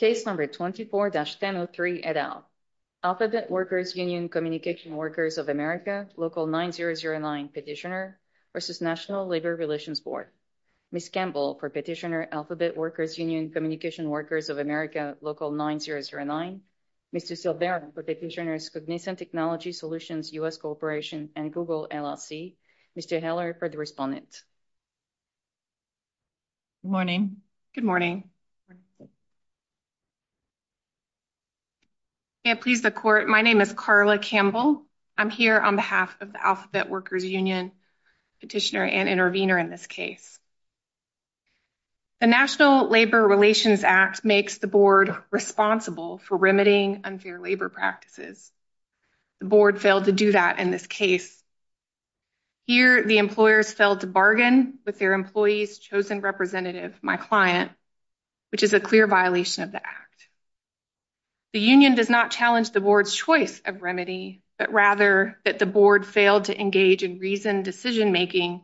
Page number 24-1003 et al. Alphabet Workers Union-Communication Workers of America, Local 9009 Petitioner versus National Labor Relations Board. Ms. Campbell for Petitioner Alphabet Workers Union-Communication Workers of America, Local 9009. Ms. Silveira for Petitioner Cognizant Technology Solutions U.S. Corporation and Google LLC. Mr. Heller for the respondent. Good morning. Good morning. May it please the court, my name is Karla Campbell. I'm here on behalf of the Alphabet Workers Union Petitioner and Intervener in this case. The National Labor Relations Act makes the board responsible for remedying unfair labor practices. The board failed to do that in this case. Here, the employer failed to bargain with their employee's chosen representative, my client, which is a clear violation of the act. The union does not challenge the board's choice of remedy, but rather that the board failed to engage in reasoned decision-making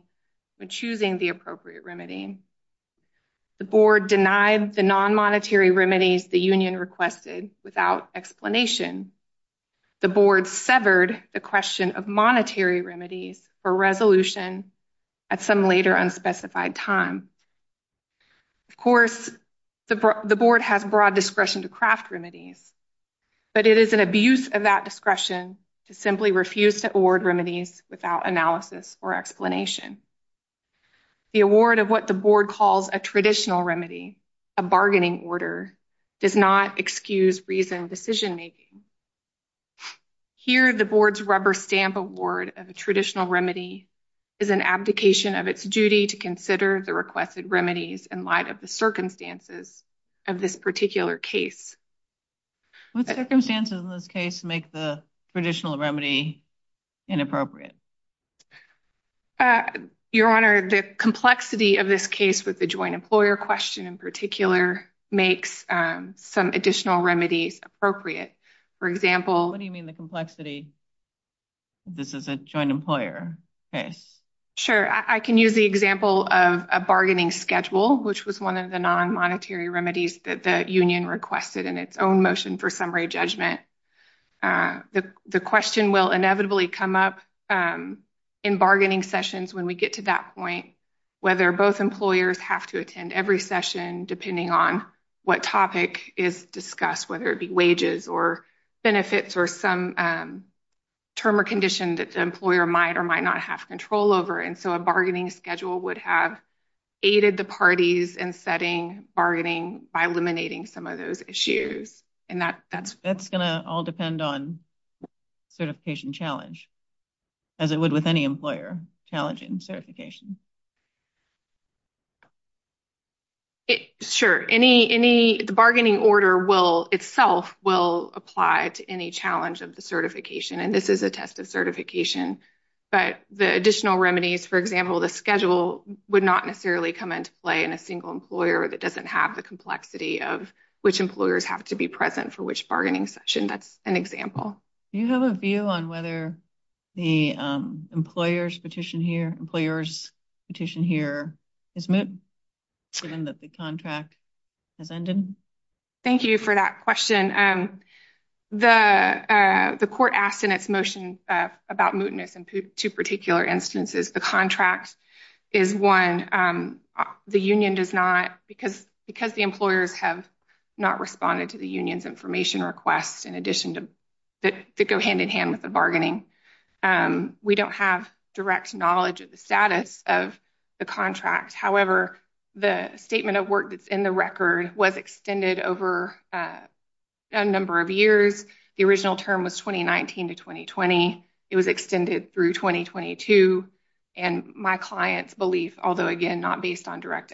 when choosing the appropriate remedy. The board denied the non-monetary remedies the union requested without explanation. The board severed the question of monetary remedies for resolution at some later unspecified time. Of course, the board has broad discretion to craft remedies, but it is an abuse of that discretion to simply refuse to award remedies without analysis or explanation. The award of what the board calls a traditional remedy, a bargaining order, does not excuse reasoned decision-making. Here, the board's rubber stamp award of a traditional remedy is an abdication of its duty to consider the requested remedies in light of the circumstances of this particular case. What circumstances in this case make the traditional remedy inappropriate? Your Honor, the complexity of this case with the joint employer question in particular makes some additional remedies appropriate. For example... What do you mean the complexity? This is a joint employer case. Sure. I can use the example of a bargaining schedule, which was one of the non-monetary remedies that the union requested in its own motion for summary judgment. The question will inevitably come up in bargaining sessions when we get to that point, whether both employers have to attend every session depending on what topic is discussed, whether it be wages or benefits or some term or condition that the employer might or might not have control over. So, a bargaining schedule would have aided the parties in setting bargaining by eliminating some of those issues. That's going to all depend on certification challenge, as it would with any employer challenging certification. Sure. The bargaining order itself will apply to any challenge of the certification, and this is a test of certification. But the additional remedies, for example, the schedule would not necessarily come into play in a single employer that doesn't have the complexity of which employers have to be present for which bargaining session. That's an example. Do you have a view on whether the employer's petition here is moot, given that the contract has ended? Thank you for that question. The court asked in its motion about mootness in two particular instances. The contract is one the union does not, because the employers have not responded to the union's information request in addition to go hand-in-hand with the bargaining. We don't have direct knowledge of the status of the contract. However, the statement of work that's in the record was extended over a number of years. The original term was 2019 to 2020. It was extended through 2022. And my client's belief, although, again, not based on direct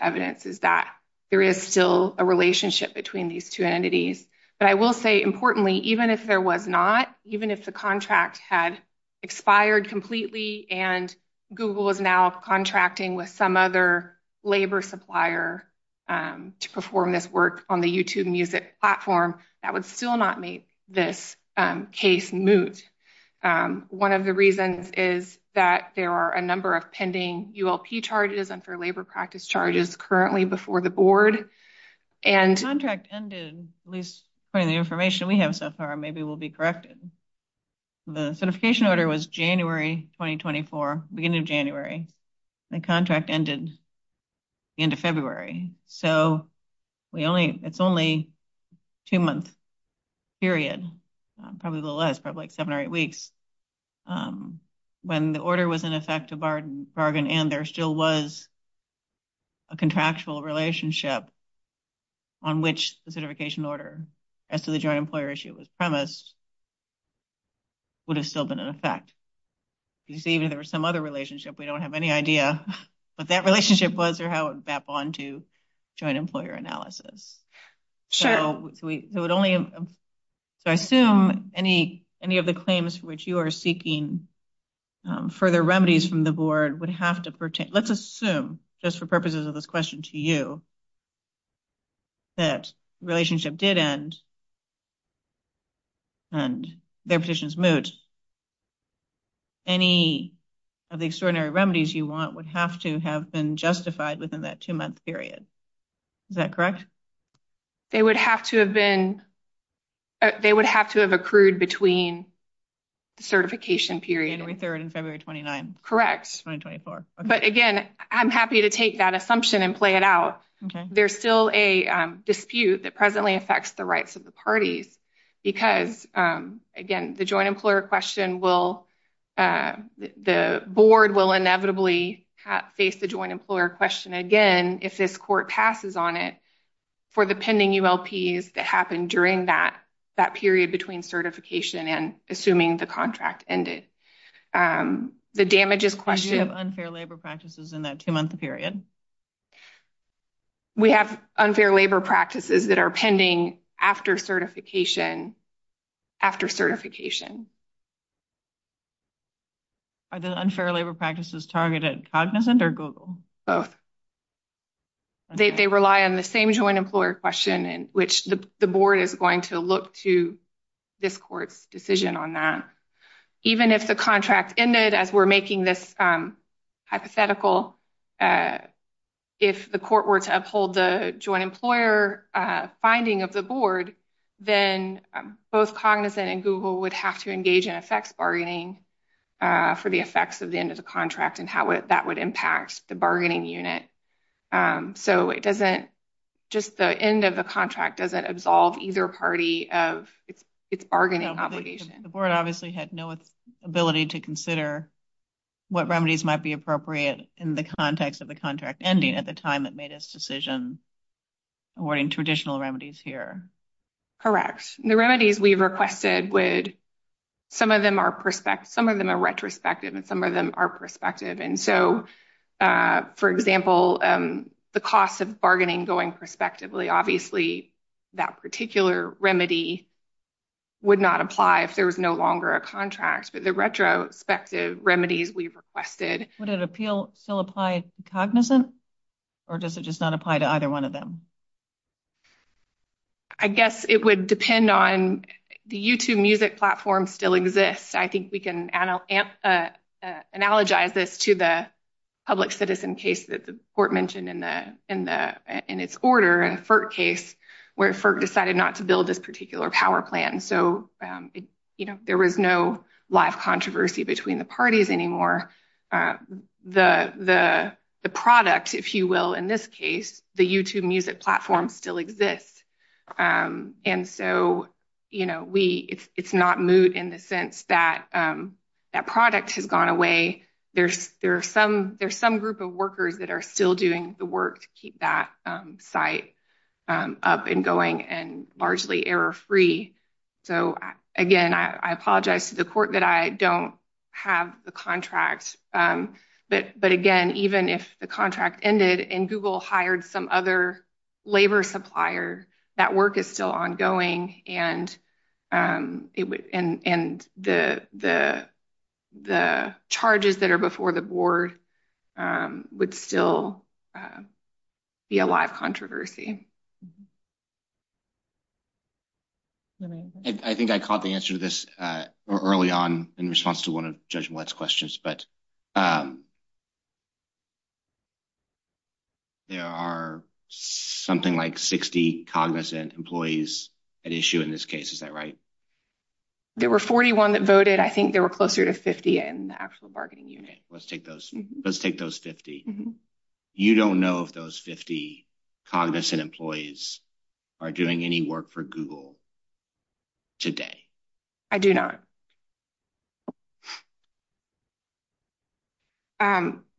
But I will say, importantly, even if there was not, even if the contract had expired completely and Google is now contracting with some other labor supplier to perform this work on the YouTube music platform, that would still not make this case moot. One of the reasons is that there are a number of pending ULP charges and for labor practice charges currently before the board. And contract ended, at least from the information we have so far, maybe we'll be corrected. The certification order was January 2024, beginning of January. The contract ended into February. So it's only a two-month period, probably a little less, probably seven or eight weeks, when the order was in effect to bargain and there still was a contractual relationship. On which the certification order, as to the joint employer issue was premised, would have still been in effect. You see, there was some other relationship. We don't have any idea what that relationship was or how it would map on to joint employer analysis. So I assume any of the claims for which you are seeking further remedies from the board would have to pertain. Let's assume, just for purposes of this question to you, that the relationship did end and their position is moot. Any of the extraordinary remedies you want would have to have been justified within that two-month period. Is that correct? They would have to have been, they would have to have accrued between certification period. January 3rd and February 29th. Correct. But again, I'm happy to take that assumption and play it out. There's still a dispute that presently affects the rights of the parties because, again, the joint employer question will, the board will inevitably face the joint employer question again if this court passes on it for the pending ULPs that happen during that that period between certification and assuming the contract ended. The damages question. Do you have unfair labor practices in that two-month period? We have unfair labor practices that are pending after certification, after certification. Are the unfair labor practices targeted Cognizant or Google? Both. They rely on the same joint question in which the board is going to look to this court's decision on that. Even if the contract ended, as we're making this hypothetical, if the court were to uphold the joint employer finding of the board, then both Cognizant and Google would have to engage in effects bargaining for the effects of the end of the contract and how that would impact the bargaining unit. So it doesn't, just the end of the contract doesn't absolve either party of its bargaining obligation. The board obviously had no ability to consider what remedies might be appropriate in the context of the contract ending at the time it made its decision awarding traditional remedies here. Correct. The remedies we've requested would, some of them are retrospective and some of them are perspective. And so for example, the cost of bargaining going prospectively, obviously that particular remedy would not apply if there was no longer a contract. But the retrospective remedies we've requested. Would an appeal still apply to Cognizant or does it just not apply to either one of them? I guess it would depend on, the YouTube music platform still exists. I think we can analogize this to the public citizen case that the court mentioned in its order and FERC case where FERC decided not to build this particular power plan. So there was no live controversy between the parties anymore. The product, if you will, in this case, the YouTube music platform still exists. And so it's not moot in the sense that that product has gone away. There's some group of workers that are still doing the work to keep that site up and going and largely error-free. So again, I apologize to the court that I don't have the contract. But again, even if the contract ended and Google hired some other labor supplier, that work is still ongoing and the charges that are before the board would still be a lot of controversy. I think I caught the answer to this early on in response to one of Judge Mollett's questions, but there are something like 60 Cognizant employees at issue in this case. Is that right? There were 41 that voted. I think there were closer to 50 in the actual bargaining unit. Let's take those. Let's take those 50. You don't know if those 50 Cognizant employees are doing any work for Google today. I do not.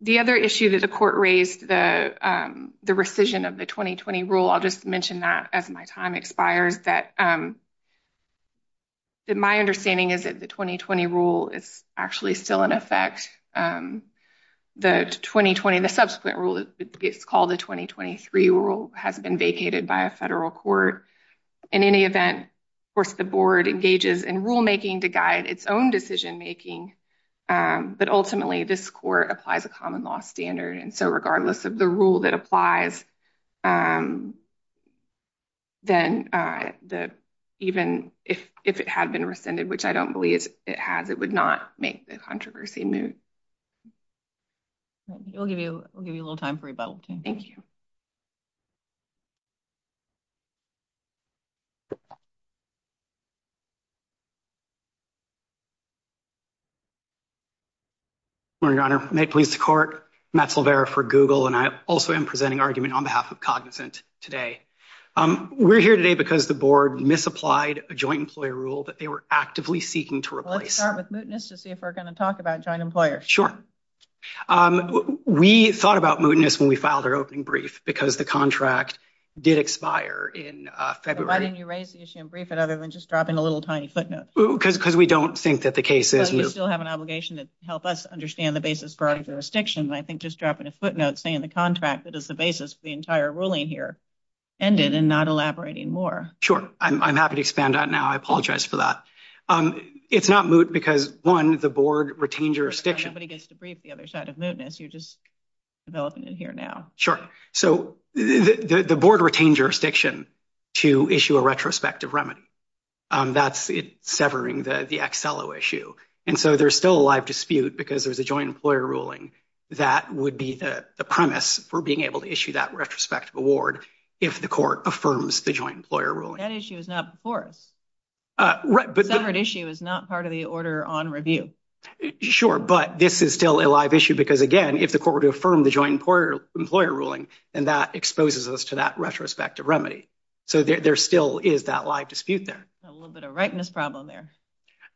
The other issue that the court raised, the rescission of the 2020 rule, I'll just mention that as my time expires, that my understanding is that the 2020 rule is actually still in effect. The 2020, the subsequent rule, it's called the 2023 rule, has been vacated by a federal court. In any event, of course, the board engages in rulemaking to guide its own decision-making, but ultimately this court applies a common law standard. And so regardless of the rule that applies, then even if it had been rescinded, which I don't believe it has, it would not make controversy moot. We'll give you a little time for rebuttal. Thank you. Good morning, Your Honor. May it please the court, Matt Silvera for Google. And I also am presenting argument on behalf of Cognizant today. We're here today because the board misapplied a joint employer rule that they were actively seeking to replace. Let's start with mootness to see if we're going to talk about joint employers. Sure. We thought about mootness when we filed our opening brief because the contract did expire in February. Why didn't you raise the issue and brief it other than just dropping a little tiny footnote? Because we don't think that the case is... But you still have an obligation to help us understand the basis for our jurisdiction. I think just dropping a footnote saying the contract that is the basis for the entire ruling here ended and not elaborating more. Sure. I'm happy to expand on that now. I apologize for that. It's not moot because, one, the board retained jurisdiction. Nobody gets to brief the other side of mootness. You're just developing it here now. Sure. So the board retained jurisdiction to issue a retrospective remedy. That's it severing the XLO issue. And so there's still a live dispute because there's a joint employer ruling that would be the premise for being able to issue that retrospective award if the court affirms the joint employer ruling. That issue was not before. The separate issue is not part of the order on review. Sure. But this is still a live issue because, again, if the court were to affirm the joint employer ruling, then that exposes us to that retrospective remedy. So there still is that live dispute there. A little bit of rightness problem there.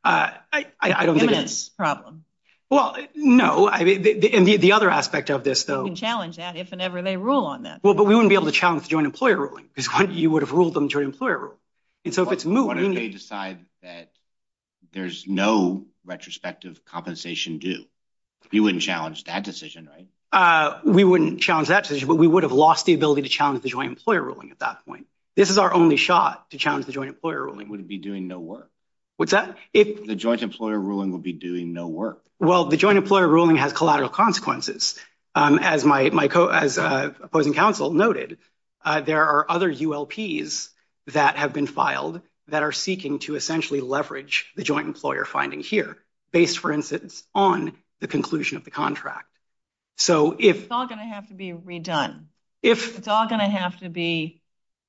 Eminence problem. Well, no. And the other aspect of this, though... We can challenge that if and ever they rule on that. But we wouldn't be able to challenge the joint employer ruling. Because you would have ruled on the joint employer ruling. But what if they decide that there's no retrospective compensation due? We wouldn't challenge that decision, right? We wouldn't challenge that decision, but we would have lost the ability to challenge the joint employer ruling at that point. This is our only shot to challenge the joint employer ruling. It would be doing no work. The joint employer ruling would be doing no work. Well, the joint employer ruling has collateral consequences. As my opposing counsel noted, there are other ULPs that have been filed that are seeking to essentially leverage the joint employer finding here, based, for instance, on the conclusion of the contract. So if... It's all going to have to be redone. It's all going to have to be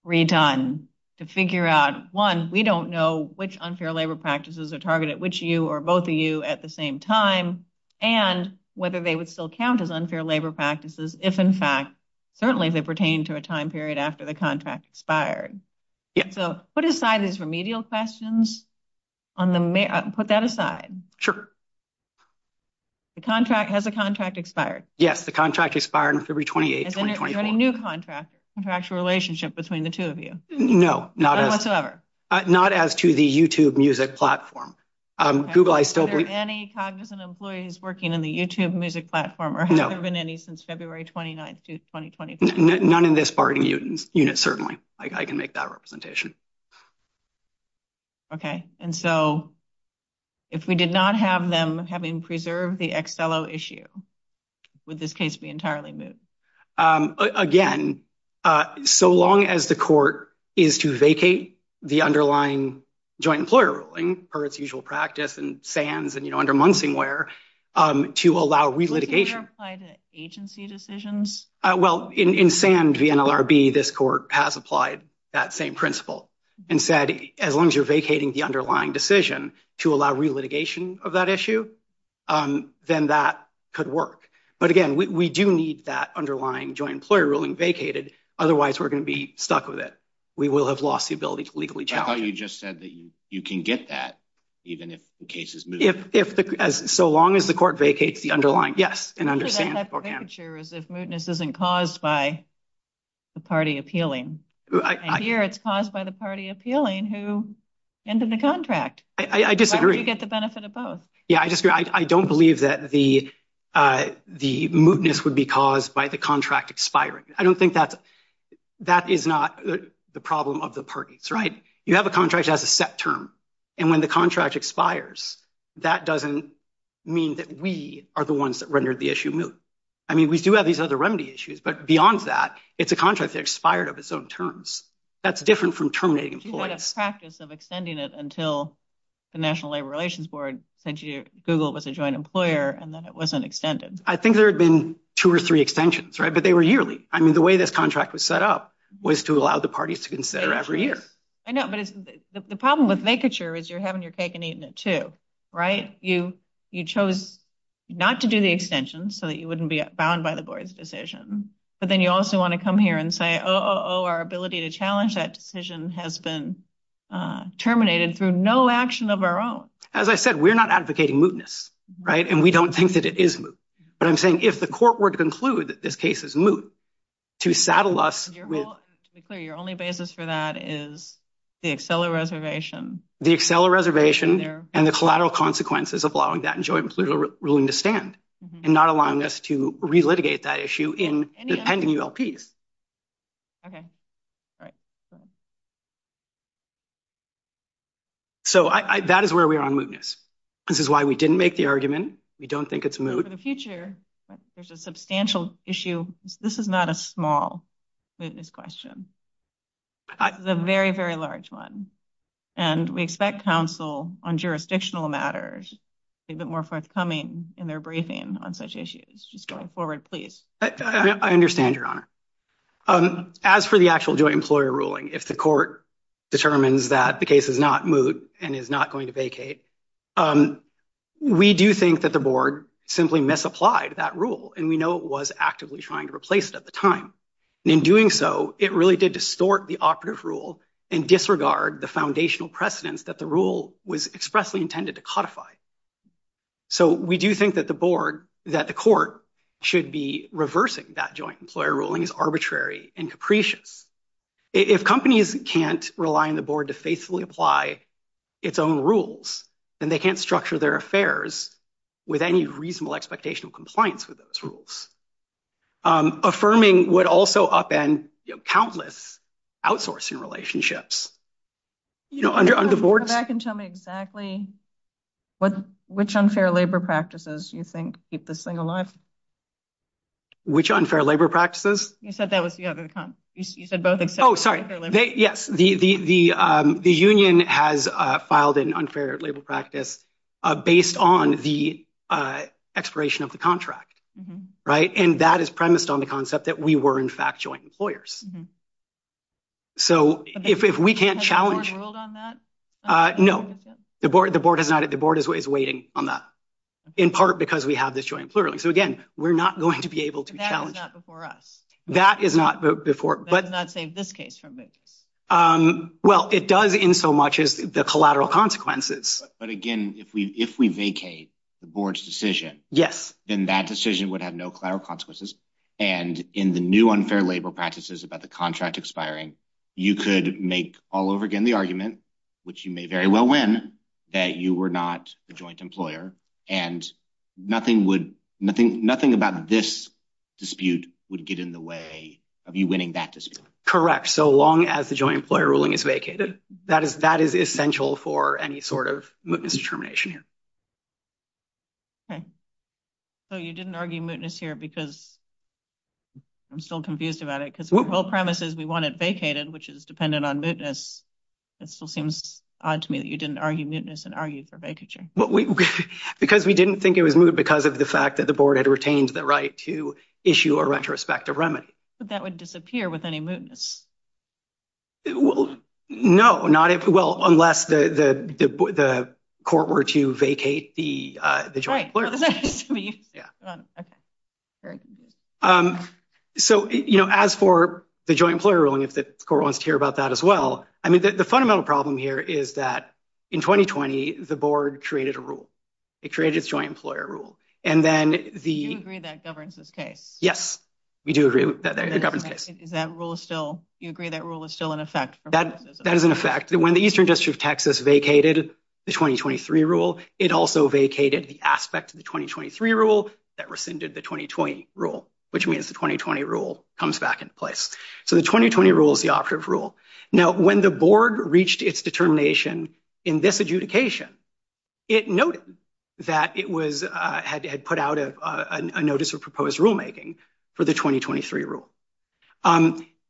redone to figure out, one, we don't know which unfair labor practices are targeted, which you or both of you, at the same time, and whether they would still count as unfair labor practices if, in fact, certainly they pertain to a time period after the contract expired. So put aside those remedial questions on the... Put that aside. Sure. The contract... Has the contract expired? Yes, the contract expired on February 28, 2024. Is there any new contractual relationship between the two of you? No, not as... Platform. Any cognizant employees working in the YouTube music platform, or have there been any since February 29, 2020? None in this party unit, certainly. I can make that representation. Okay. And so if we did not have them having preserved the XLO issue, would this case be entirely moved? Again, so long as the court is to vacate the underlying joint employer ruling, per its usual practice in SANS and under Munsingware, to allow re-litigation... Does that apply to agency decisions? Well, in SANS, VNLRB, this court has applied that same principle and said, as long as you're vacating the underlying decision to allow re-litigation of that issue, then that could work. But again, we do need that underlying joint employer ruling vacated. Otherwise, we're going to be stuck with it. We will have lost the ability to legally challenge it. I thought you just said that you can get that, even if the case is moved. So long as the court vacates the underlying... Yes, and understand... So that's the picture, is if mootness isn't caused by the party appealing. And here, it's caused by the party appealing who ended the contract. I disagree. You get the benefit of both. Yeah, I disagree. I don't believe that the mootness would be caused by the contract expiring. I don't think that... That is not the problem of the parties, right? You have a contract that has a set term, and when the contract expires, that doesn't mean that we are the ones that rendered the issue moot. I mean, we do have these other remedy issues, but beyond that, it's a contract that expired of its own terms. That's different from terminating employees. What a practice of extending it until the National Labor Relations Board said that Google was a joint employer, and then it wasn't extended. I think there had been two or three extensions, right? But they were yearly. I mean, the way this contract was set up was to allow the parties to consider it every year. I know, but the problem with vacature is you're having your cake and eating it too, right? You chose not to do the extension so that you wouldn't be bound by the board's decision. But then you also want to come here and say, oh, our ability to challenge that decision has been terminated through no action of our own. As I said, we're not advocating mootness, right? And we don't think that it is moot. But I'm saying if the court were to conclude that this case is moot, to saddle us with- To be clear, your only basis for that is the Accela Reservation. The Accela Reservation and the collateral consequences of allowing that joint ruling to stand, and not allowing us to re-litigate that issue in the pending ULPs. Okay, right. So that is where we are on mootness. This is why we didn't make the argument. We don't think it's moot. For the future, there's a substantial issue. This is not a small mootness question. It's a very, very large one. And we expect counsel on jurisdictional matters to be a bit more forthcoming in their briefing on such issues. Just going forward, please. I understand, Your Honor. As for the actual joint employer ruling, if the court determines that the case is not moot and is not going to vacate, we do think that the board simply misapplied that rule, and we know it was actively trying to replace it at the time. In doing so, it really did distort the operative rule and disregard the foundational precedence that the rule was expressly intended to codify. So we do think that the board, that the court, should be reversing that joint employer ruling in a way that makes companies arbitrary and capricious. If companies can't rely on the board to faithfully apply its own rules, then they can't structure their affairs with any reasonable expectation of compliance with those rules, affirming what also upend countless outsourcing relationships. You know, under the board's- Go back and tell me exactly which unfair labor practices you think keep this thing alive. Which unfair labor practices? You said that was the other- You said both except- Oh, sorry. The union has filed an unfair labor practice based on the expiration of the contract, right? And that is premised on the concept that we were, in fact, joint employers. So if we can't challenge- Have you ruled on that? No. The board is not- The board is waiting on that, in part because we have this joint employer ruling. So again, we're not going to be able to challenge- That is not before us. That is not before- That does not save this case from it. Well, it does in so much as the collateral consequences. But again, if we vacate the board's decision- Yes. Then that decision would have no collateral consequences. And in the new unfair labor practices about the contract expiring, you could make all over again the argument, which you may very well win, that you were not a joint employer. And nothing about this dispute would get in the way of you winning that dispute. Correct. So long as the joint employer ruling is vacated, that is essential for any sort of mootness determination. Okay. So you didn't argue mootness here because- I'm still confused about it. Because the whole premise is we want it vacated, which is dependent on mootness. It still seems odd to me that you didn't argue mootness and argue for vacature. Because we didn't think it was moot because of the fact that the board had retained the right to issue a retrospective remedy. But that would disappear with any mootness. No, not if- Well, unless the court were to vacate the joint employer. All right, so the question is for you. Hold on. So as for the joint employer ruling, if the court wants to hear about that as well, I In 2020, the board created a rule. It created a joint employer rule. And then the- You agree that governs this case? Yes, we do agree that governs this case. That rule is still- You agree that rule is still in effect? That is in effect. When the Eastern District of Texas vacated the 2023 rule, it also vacated the aspect of the 2023 rule that rescinded the 2020 rule, which means the 2020 rule comes back into place. So the 2020 rule is the operative rule. Now, when the board reached its determination in this adjudication, it noted that it had put out a notice of proposed rulemaking for the 2023 rule.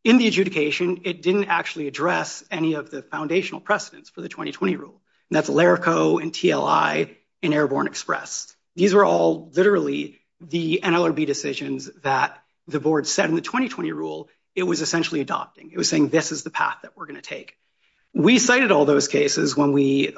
In the adjudication, it didn't actually address any of the foundational precedents for the 2020 rule. And that's Ilerico and TLI and Airborne Express. These are all literally the NLRB decisions that the board said in the 2020 rule it was essentially adopting. It was saying, this is the path that we're going to take. We cited all those cases when we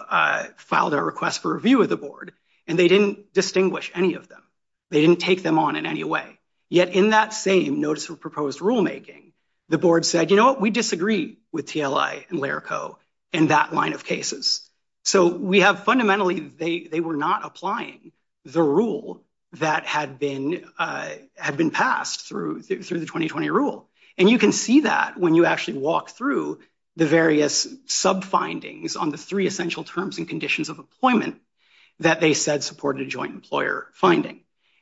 filed our request for review of the board, and they didn't distinguish any of them. They didn't take them on in any way. Yet in that same notice of proposed rulemaking, the board said, you know what? We disagree with TLI and Ilerico in that line of cases. So we have fundamentally- They were not applying the rule that had been passed through the 2020 rule. And you can see that when you actually walk through the various sub-findings on the three essential terms and conditions of employment that they said supported a joint employer finding.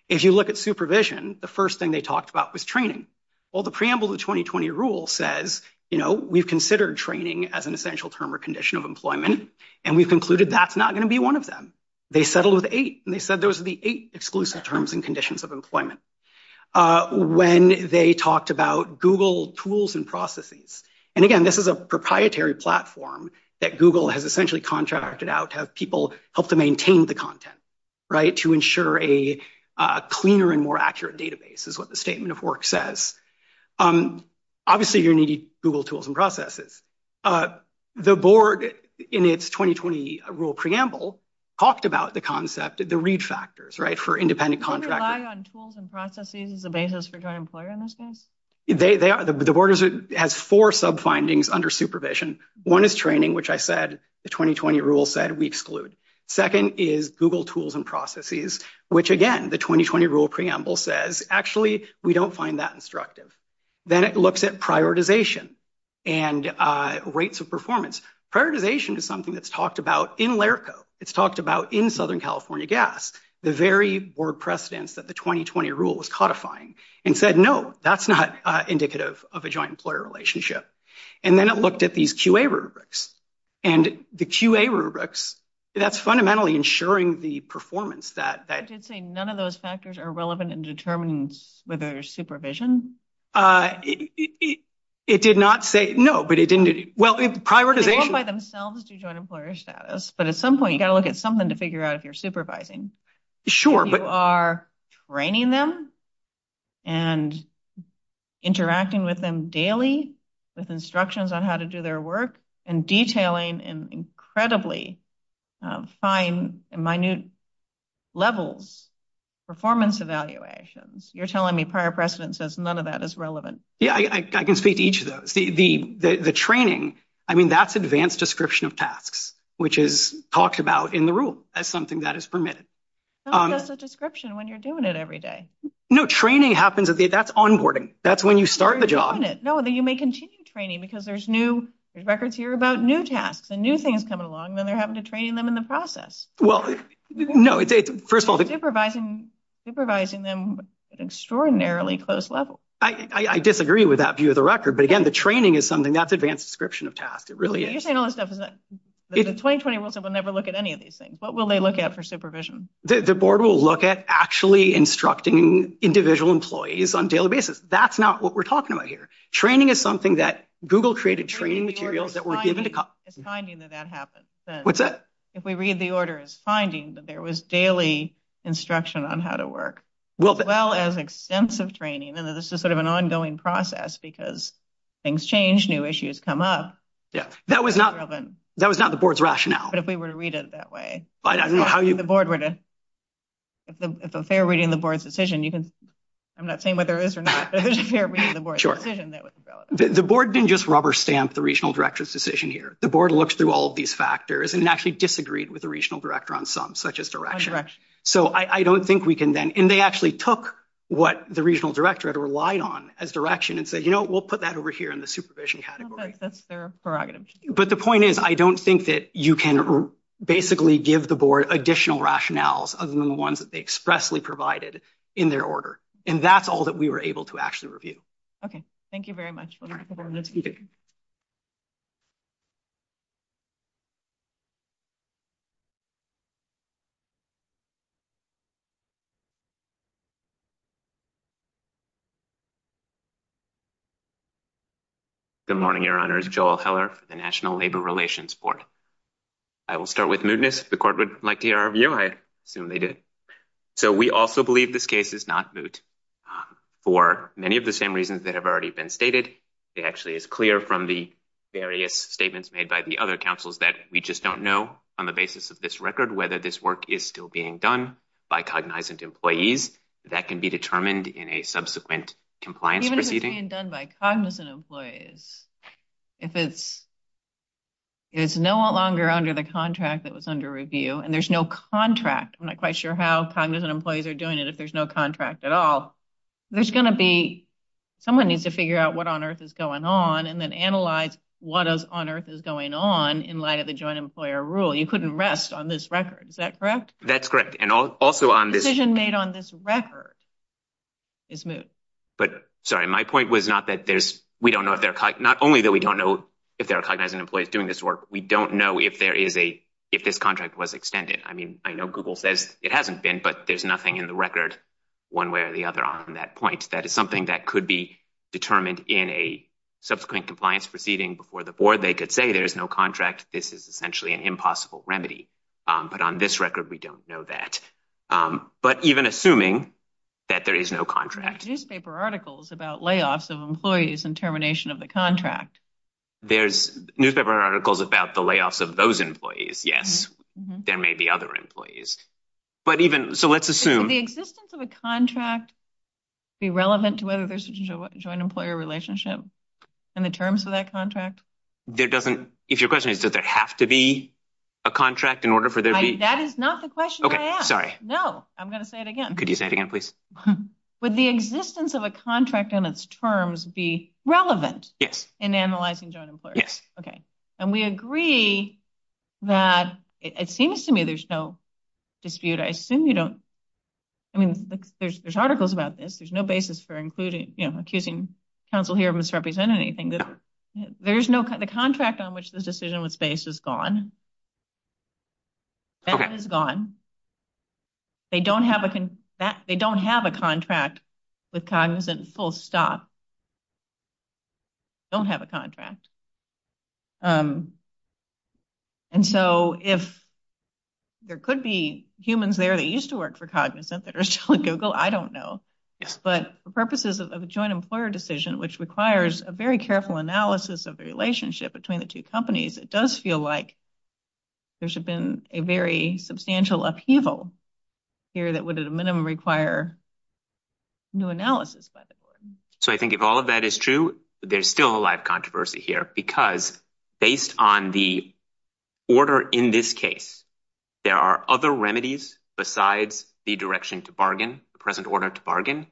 If you look at supervision, the first thing they talked about was training. Well, the preamble to the 2020 rule says, you know, we've considered training as an essential term or condition of employment, and we've concluded that's not going to be one of them. They settled with eight, and they said those are the eight exclusive terms and conditions of employment. When they talked about Google tools and processes, and again, this is a proprietary platform that Google has essentially contracted out to have people help to maintain the content, right, to ensure a cleaner and more accurate database is what the statement of work says. Obviously, you need Google tools and processes. The board, in its 2020 rule preamble, talked about the concept of the read factors, right, for independent contracting. Do you rely on tools and processes as a basis for a joint employer in this case? The board has four sub-findings under supervision. One is training, which I said the 2020 rule said we exclude. Second is Google tools and processes, which again, the 2020 rule preamble says, actually, we don't find that instructive. Then it looks at prioritization and rates of performance. Prioritization is something that's talked about in LERCO. It's talked about in Southern California GAS, the very board precedents that the 2020 rule was codifying and said, no, that's not indicative of a joint employer relationship. And then it looked at these QA rubrics. And the QA rubrics, that's fundamentally ensuring the performance that- I did say none of those factors are relevant in determining whether there's supervision. It did not say, no, but it didn't. Well, prioritization- You've got to look at something to figure out if you're supervising. Sure, but- You are training them and interacting with them daily with instructions on how to do their work and detailing and incredibly fine and minute levels, performance evaluations. You're telling me prior precedence says none of that is relevant. Yeah, I can see each of those. The training, I mean, that's advanced description of tasks, which is talked about in the rule as something that is permitted. That's a description when you're doing it every day. No, training happens, that's onboarding. That's when you start the job. No, you may continue training because there's new records here about new tasks and new things come along, then they're having to train them in the process. Well, no, first of all- Supervising them extraordinarily close level. I disagree with that view of the record. But again, the training is something that's advanced description of tasks. It really is. You're saying all this stuff, but the 2020 rules will never look at any of these things. What will they look at for supervision? The board will look at actually instructing individual employees on daily basis. That's not what we're talking about here. Training is something that Google created training materials that were given to cops. It's finding that that happens. What's that? If we read the order, it's finding that there was daily instruction on how to work, well as extensive training. And this is sort of an ongoing process because things change, new issues come up. Yeah, that was not the board's rationale. But if we were to read it that way, if they're reading the board's decision, you can- I'm not saying whether it is or not, but if you can't read the board's decision, that would be relevant. The board didn't just rubber stamp the regional director's decision here. The board looks through all of these factors and actually disagreed with the regional director on some such as direction. So I don't think we can then- And they actually took what the regional director had relied on as direction and said, you know, we'll put that over here in the supervision category. That's their prerogative. But the point is, I don't think that you can basically give the board additional rationales other than the ones that they expressly provided in their order. And that's all that we were able to actually review. Okay, thank you very much. Good morning, Your Honors. Joel Heller for the National Labor Relations Board. I will start with mootness. If the court would like to hear our view, I assume they did. So we also believe this case is not moot for many of the same reasons that have already been stated. It actually is clear from the various statements made by the other counsels that we just don't know on the basis of this record whether this work is still being done by cognizant employees. That can be determined in a subsequent compliance proceeding. Even if it's being done by cognizant employees, if it's no longer under the contract that was under review and there's no contract, I'm not quite sure how cognizant employees are doing it if there's no contract at all, there's going to be- Someone needs to figure out what on earth is going on and then analyze what on earth is going on in light of the joint employer rule. You couldn't rest on this record. Is that correct? That's correct. And also on this- Decision made on this record is moot. But sorry, my point was not that there's- we don't know if they're- not only that we don't know if there are cognizant employees doing this work, we don't know if there is a- if this contract was extended. I mean, I know Google says it hasn't been, but there's nothing in the record one way or the other on that point. That is something that could be determined in a subsequent compliance proceeding before the board. They could say there's no contract. This is essentially an impossible remedy. But on this record, we don't know that. But even assuming that there is no contract- Newspaper articles about layoffs of employees and termination of the contract. There's newspaper articles about the layoffs of those employees. Yes, there may be other employees. But even- so let's assume- Could the existence of a contract be relevant to whether there's a joint employer relationship in the terms of that contract? There doesn't- if your question is, does there have to be a contract in order for there to be- That is not the question I asked. Okay, sorry. No, I'm going to say it again. Could you say it again, please? Would the existence of a contract in its terms be relevant- In analyzing joint employers? Yes. Okay. And we agree that it seems to me there's no dispute. I assume you don't- I mean, there's articles about this. There's no basis for including- accusing counsel here of misrepresenting anything. There's no- the contract on which the decision was based is gone. That is gone. They don't have a contract with Cognizant, full stop. Don't have a contract. And so if there could be humans there that used to work for Cognizant that are still at Google, I don't know. But for purposes of a joint employer decision, which requires a very careful analysis of the relationship between the two companies, it does feel like there should have been a very substantial upheaval here that would at a minimum require new analysis, by the way. So I think if all of that is true, there's still a lot of controversy here, because based on the order in this case, there are other remedies besides the direction to bargain, the present order to bargain,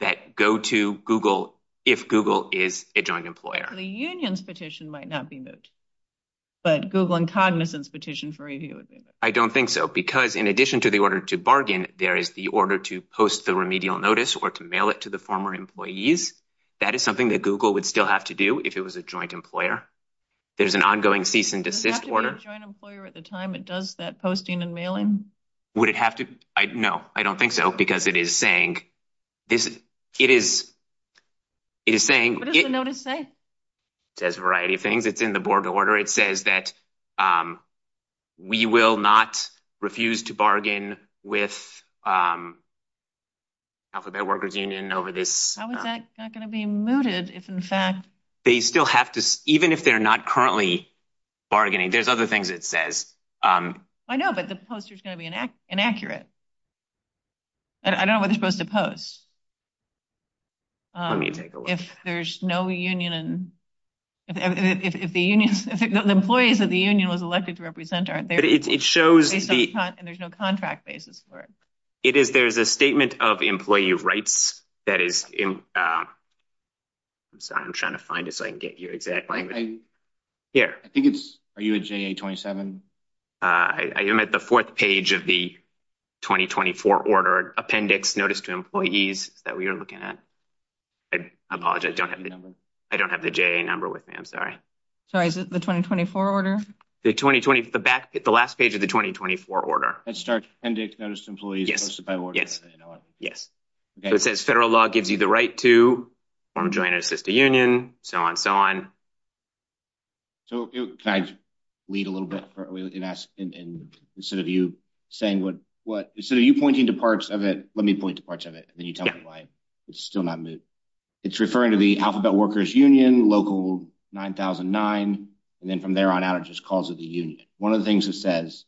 that go to Google if Google is a joint employer. The union's petition might not be moved, but Google and Cognizant's petition for review would be. I don't think so, because in addition to the order to bargain, there is the order to post the remedial notice or to mail it to the former employees. That is something that Google would still have to do if it was a joint employer. There's an ongoing cease and desist order. Joint employer at the time, it does that posting and mailing? Would it have to? No, I don't think so. Because it is saying, it is saying... What does the notice say? It says a variety of things. It's in the board order. It says that we will not refuse to bargain with Alphabet Workers Union over this. How is that not going to be mooted if in fact... They still have to, even if they're not currently bargaining, there's other things it says. I know, but the poster's going to be inaccurate. I don't know what they're supposed to post. If there's no union... The employees that the union was elected to represent aren't there. But it shows... And there's no contract basis for it. It is, there's a statement of employee rights that is... I'm trying to find it so I can get your exact language. Here. I think it's... Are you a JA-27? I am at the fourth page of the 2024 order, appendix notice to employees that we are looking at. I apologize, I don't have the JA number with me, I'm sorry. Sorry, is it the 2024 order? The 2020, the last page of the 2024 order. That starts appendix notice to employees... Yes, yes. It says federal law gives you the right to form, join, or assist a union, so on, so on. So, can I read a little bit? Instead of you saying what... Instead of you pointing to parts of it, let me point to parts of it, and then you tell me why. It's still not moving. It's referring to the Alphabet Workers Union, local 9009, and then from there on out it just calls it the union. One of the things it says,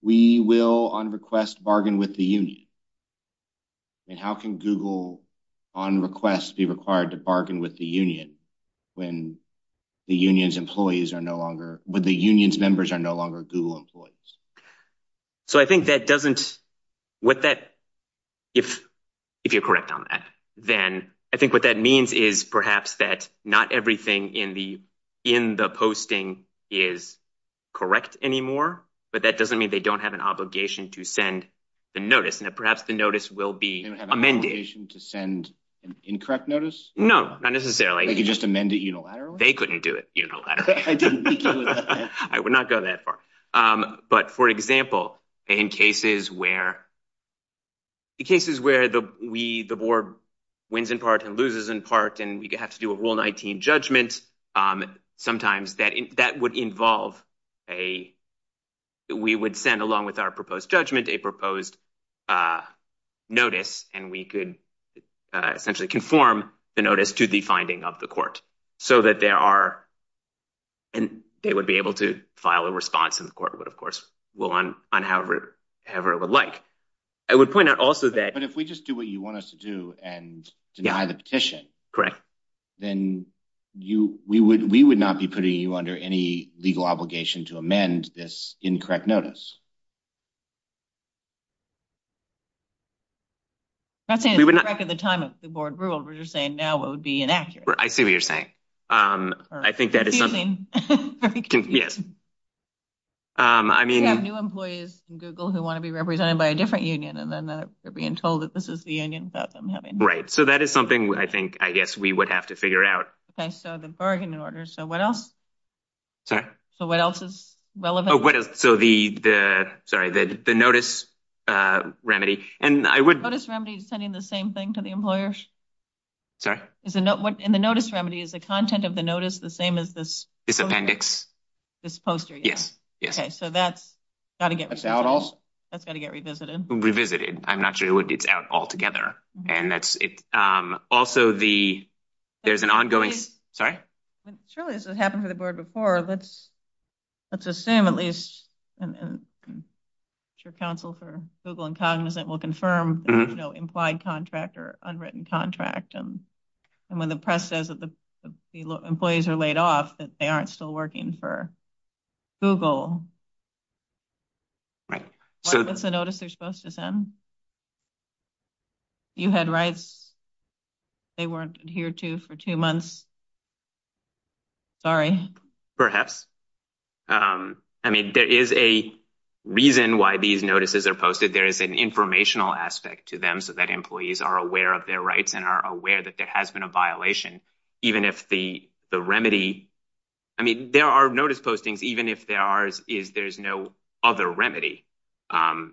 we will on request bargain with the union. And how can Google on request be required to bargain with the union when the union's employees are no longer... When the union's members are no longer Google employees? So, I think that doesn't... With that, if you're correct on that, then I think what that means is perhaps that not everything in the posting is correct anymore, but that doesn't mean they don't have an obligation to send the notice, and that perhaps the notice will be amended. They don't have an obligation to send an incorrect notice? No, not necessarily. They could just amend it unilaterally? They couldn't do it unilaterally. They couldn't do it unilaterally. I would not go that far. But for example, in cases where the board wins in part and loses in part, and we have to do a Rule 19 judgment, sometimes that would involve a... We would send along with our proposed judgment a proposed notice, and we could essentially reform the notice to the finding of the court, so that they would be able to file a response, and the court would, of course, rule on however it would like. I would point out also that... But if we just do what you want us to do and deny the petition, then we would not be putting you under any legal obligation to amend this incorrect notice. I think at the time of the board rule, we were just saying now it would be inaccurate. I see what you're saying. I think that is something... Excuse me. Yes. I mean... We have new employees in Google who want to be represented by a different union, and then they're being told that this is the union that I'm having. Right. So that is something I think, I guess, we would have to figure out. Okay. So the bargain order. So what else? Sorry? So what else is relevant? So the notice remedy, and I would... Notice remedy is sending the same thing to the employers? Sorry? And the notice remedy is the content of the notice the same as this? This appendix. This poster, yes. Yes. Okay. So that's got to get... That's out also? That's got to get revisited. Revisited. I'm not sure it would be out altogether. And that's it. Also, there's an ongoing... Sorry? Surely this has happened to the board before. Let's assume at least, and I'm sure counsel for Google and Cognizant will confirm, implied contract or unwritten contract. And when the press says that the employees are laid off, that they aren't still working for Google, what is the notice they're supposed to send? You had rights they weren't adhered to for two months? Sorry? Perhaps. I mean, there is a reason why these notices are posted. There is an informational aspect to them so that employees are aware of their rights and are aware that there has been a violation, even if the remedy... I mean, there are notice postings, even if there is no other remedy. And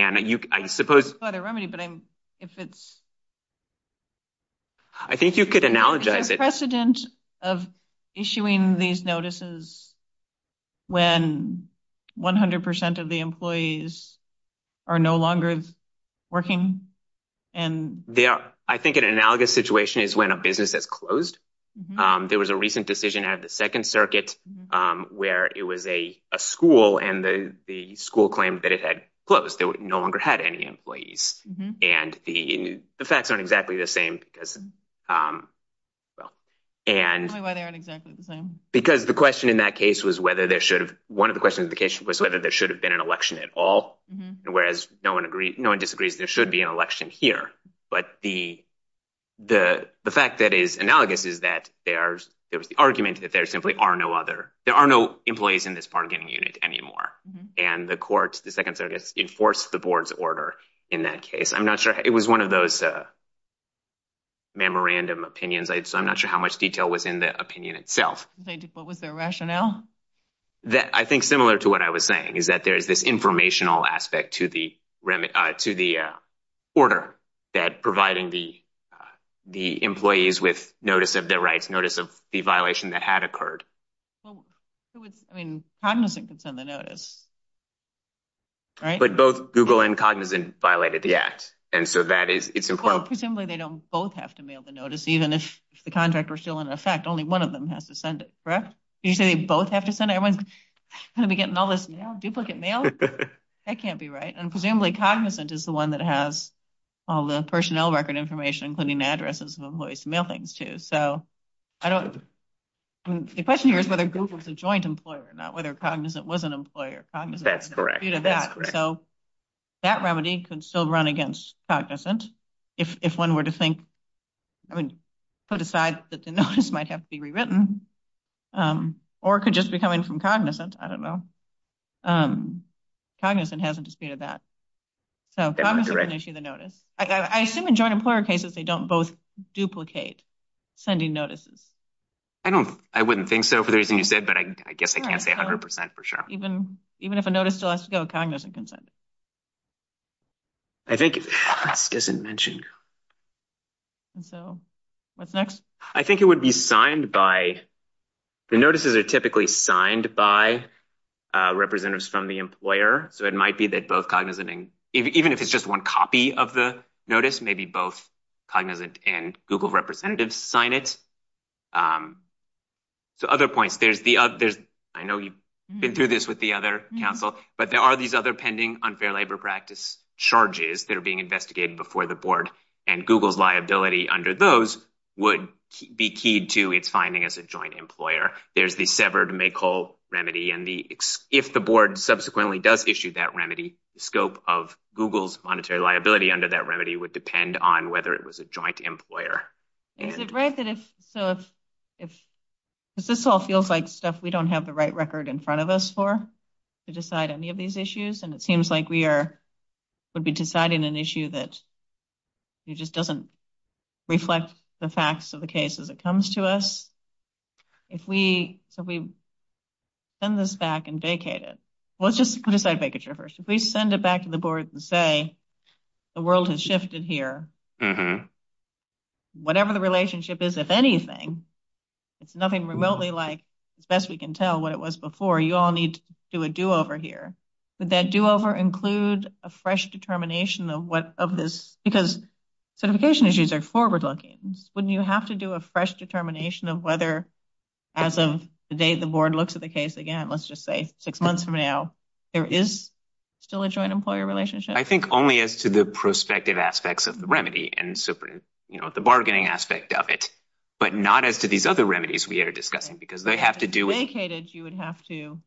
I suppose... It's not a remedy, but if it's... I think you could analogize it. Is there a precedent of issuing these notices when 100% of the employees are no longer working? Yeah. I think an analogous situation is when a business has closed. There was a recent decision at the Second Circuit where it was a school and the school claimed that it had closed. They no longer had any employees. And the facts aren't exactly the same because... Because the question in that case was whether there should have... One of the questions in the case was whether there should have been an election at all, whereas no one disagrees there should be an election here. But the fact that is analogous is that there's... It was the argument that there simply are no other... There are no employees in this bargaining unit anymore. And the court, the Second Circuit, enforced the board's order in that case. I'm not sure. It was one of those memorandum opinions. I'm not sure how much detail was in the opinion itself. They default with their rationale? I think similar to what I was saying is that there's this informational aspect to the order that providing the employees with notice of their rights, notice of the violation that had occurred. Well, who is... I mean, Cognizant could send the notice, right? But both Google and Cognizant violated the act. And so that is... Well, presumably they don't both have to mail the notice. Even if the contract were still in effect, only one of them has to send it, correct? Did you say they both have to send it? Everyone's going to be getting all this duplicate mail? That can't be right. And presumably Cognizant is the one that has all the personnel record information, including addresses of employees to mail things to. So the question here is whether Google is a joint employer, not whether Cognizant was an employer. Cognizant disputed that. So that remedy could still run against Cognizant if one were to think... I mean, put aside that the notice might have to be rewritten or could just be coming from Cognizant. I don't know. Cognizant hasn't disputed that. So Cognizant can issue the notice. I assume in joint employer cases, they don't both duplicate. Sending notices. I don't, I wouldn't think so for the reason you said, but I guess I can't say 100% for sure. Even if a notice still has to go, Cognizant can send it. I think ask isn't mentioned. So what's next? I think it would be signed by... The notices are typically signed by representatives from the employer. So it might be that both Cognizant and... Even if it's just one copy of the notice, maybe both Cognizant and Google representatives sign it. So other points, there's the other... I know you've been through this with the other capital, but there are these other pending unfair labor practice charges that are being investigated before the board and Google's liability under those would be keyed to its finding as a joint employer. There's the severed make whole remedy. And if the board subsequently does issue that remedy, the scope of Google's monetary liability under that remedy would depend on whether it was a joint employer. Is it right that if this all feels like stuff we don't have the right record in front of us for, to decide any of these issues? And it seems like we would be deciding an issue that just doesn't reflect the facts of the case as it comes to us. If we send this back and vacate it, we'll just decide vacature first. If we send it back to the board and say, the world has shifted here, whatever the relationship is, if anything, it's nothing remotely like, as best we can tell what it was before, you all need to do a do-over here. Would that do-over include a fresh determination of what of this? Because certification issues are forward-looking. Wouldn't you have to do a fresh determination of whether as of the day the board looks at the case again, let's just say six months from now, there is still a joint employer relationship? I think only as to the prospective aspects of the remedy and the bargaining aspect of it, but not as to these other remedies we are discussing, because they have to do with- Vacate it, you would have to,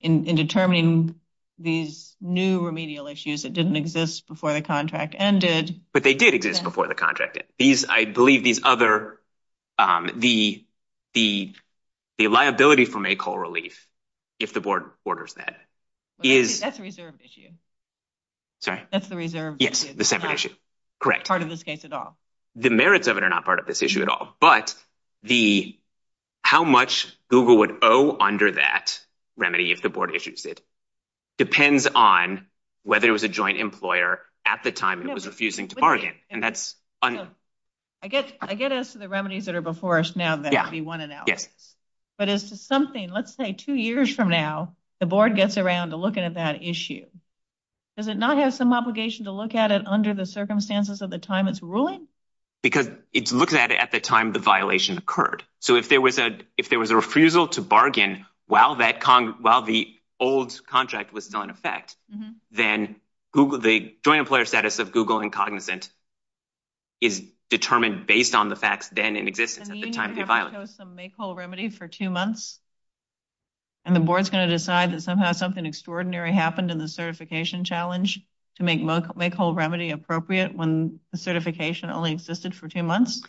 in determining these new remedial issues that didn't exist before the contract ended. But they did exist before the contract ended. I believe these other, the liability from a coal relief, if the board orders that, is- That's a reserved issue. Sorry? That's the reserved issue. Yes, the separate issue, correct. Part of this case at all. The merits of it are not part of this issue at all, but how much Google would owe under that remedy, if the board issues it, depends on whether it was a joint employer at the time it was refusing to bargain. That's- So, I get as to the remedies that are before us now, that would be one and out. But as to something, let's say two years from now, the board gets around to looking at that issue, does it not have some obligation to look at it under the circumstances of the time it's ruling? Because it's looking at it at the time the violation occurred. So if there was a refusal to bargain while the old contract was not in effect, then the joint employer status of Google Incognizant is determined based on the facts then in existence at the time of the violence. Does that mean you have to show some make whole remedy for two months? And the board's going to decide that somehow something extraordinary happened in the certification challenge to make make whole remedy appropriate when the certification only existed for two months?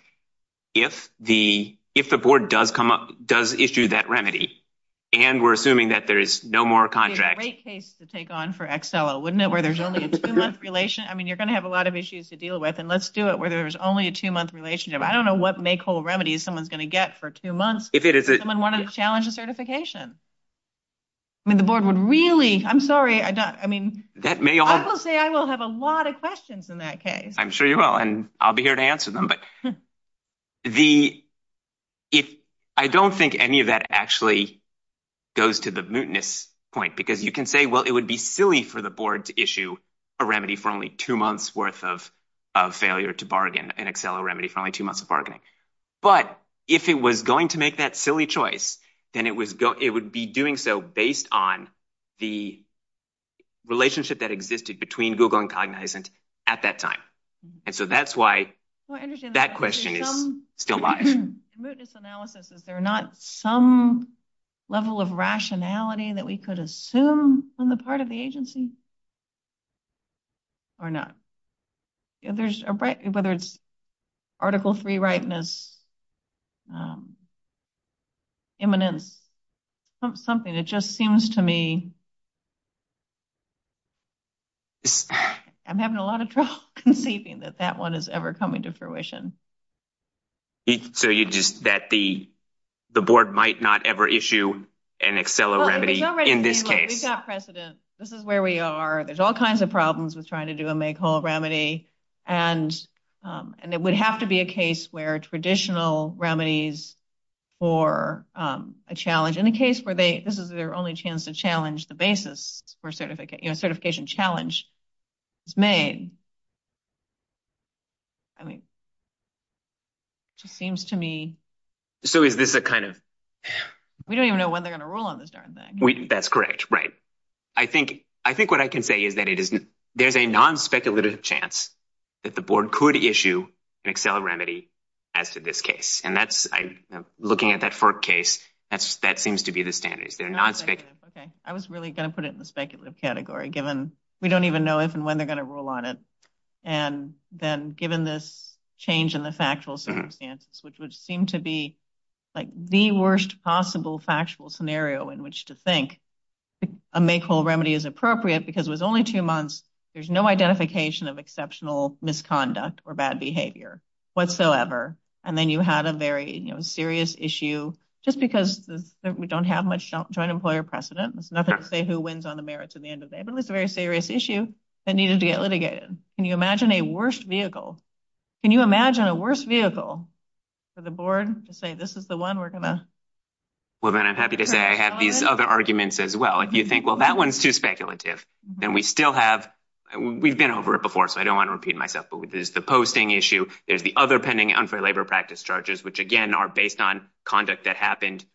If the board does issue that remedy, and we're assuming that there is no more contract- It would be a great case to take on for XLO, wouldn't it? Where there's only a two month relation. I mean, you're going to have a lot of issues to deal with and let's do it where there's only a two month relationship. I don't know what make whole remedy someone's going to get for two months. If someone wanted to challenge a certification. I mean, the board would really, I'm sorry. I don't, I mean, I will say I will have a lot of questions in that case. I'm sure you will. And I'll be here to answer them. But I don't think any of that actually goes to the mootness point because you can say, well, it would be silly for the board to issue a remedy for only two months worth of failure to bargain an XLO remedy for only two months of bargaining. But if it was going to make that silly choice, then it would be doing so based on the relationship that existed between Google and Cognizant at that time. And so that's why that question is still alive. The mootness analysis, is there not some level of rationality that we could assume on the part of the agency? Or not. There's, whether it's article three rightness, imminence, something that just seems to me, I'm having a lot of trouble conceiving that that one is ever coming to fruition. So you just, that the, the board might not ever issue an XLO remedy in this case. We've got precedent. This is where we are. There's all kinds of problems with trying to do a make whole remedy. And it would have to be a case where traditional remedies for a challenge in the case where they, this is their only chance to challenge the basis for certification challenge is made. I mean, it just seems to me. So is this a kind of, we don't even know when they're gonna rule on this darn thing. That's correct. Right. I think what I can say is that it isn't, there's a non-speculative chance that the board could issue an XLO remedy as to this case. And that's looking at that FERC case. That's, that seems to be the standards. They're non-speculative. Okay. I was really gonna put it in the speculative category given we don't even know if and when they're gonna rule on it. And then given this change in the factual circumstances, which would seem to be like the worst possible factual scenario in which to think a make whole remedy is appropriate because it was only two months. There's no identification of exceptional misconduct or bad behavior whatsoever. And then you have a very serious issue just because we don't have much joint employer precedent. Nothing to say who wins on the merits at the end of the day, but it's a very serious issue that needed to get litigated. Can you imagine a worse vehicle? Can you imagine a worse vehicle for the board to say, this is the one we're gonna. Well, then I'm happy to say I have these other arguments as well. If you think, well, that one's too speculative. Then we still have, we've been over it before, so I don't wanna repeat myself. But with this, the posting issue is the other pending unfair labor practice charges, which again are based on conduct that happened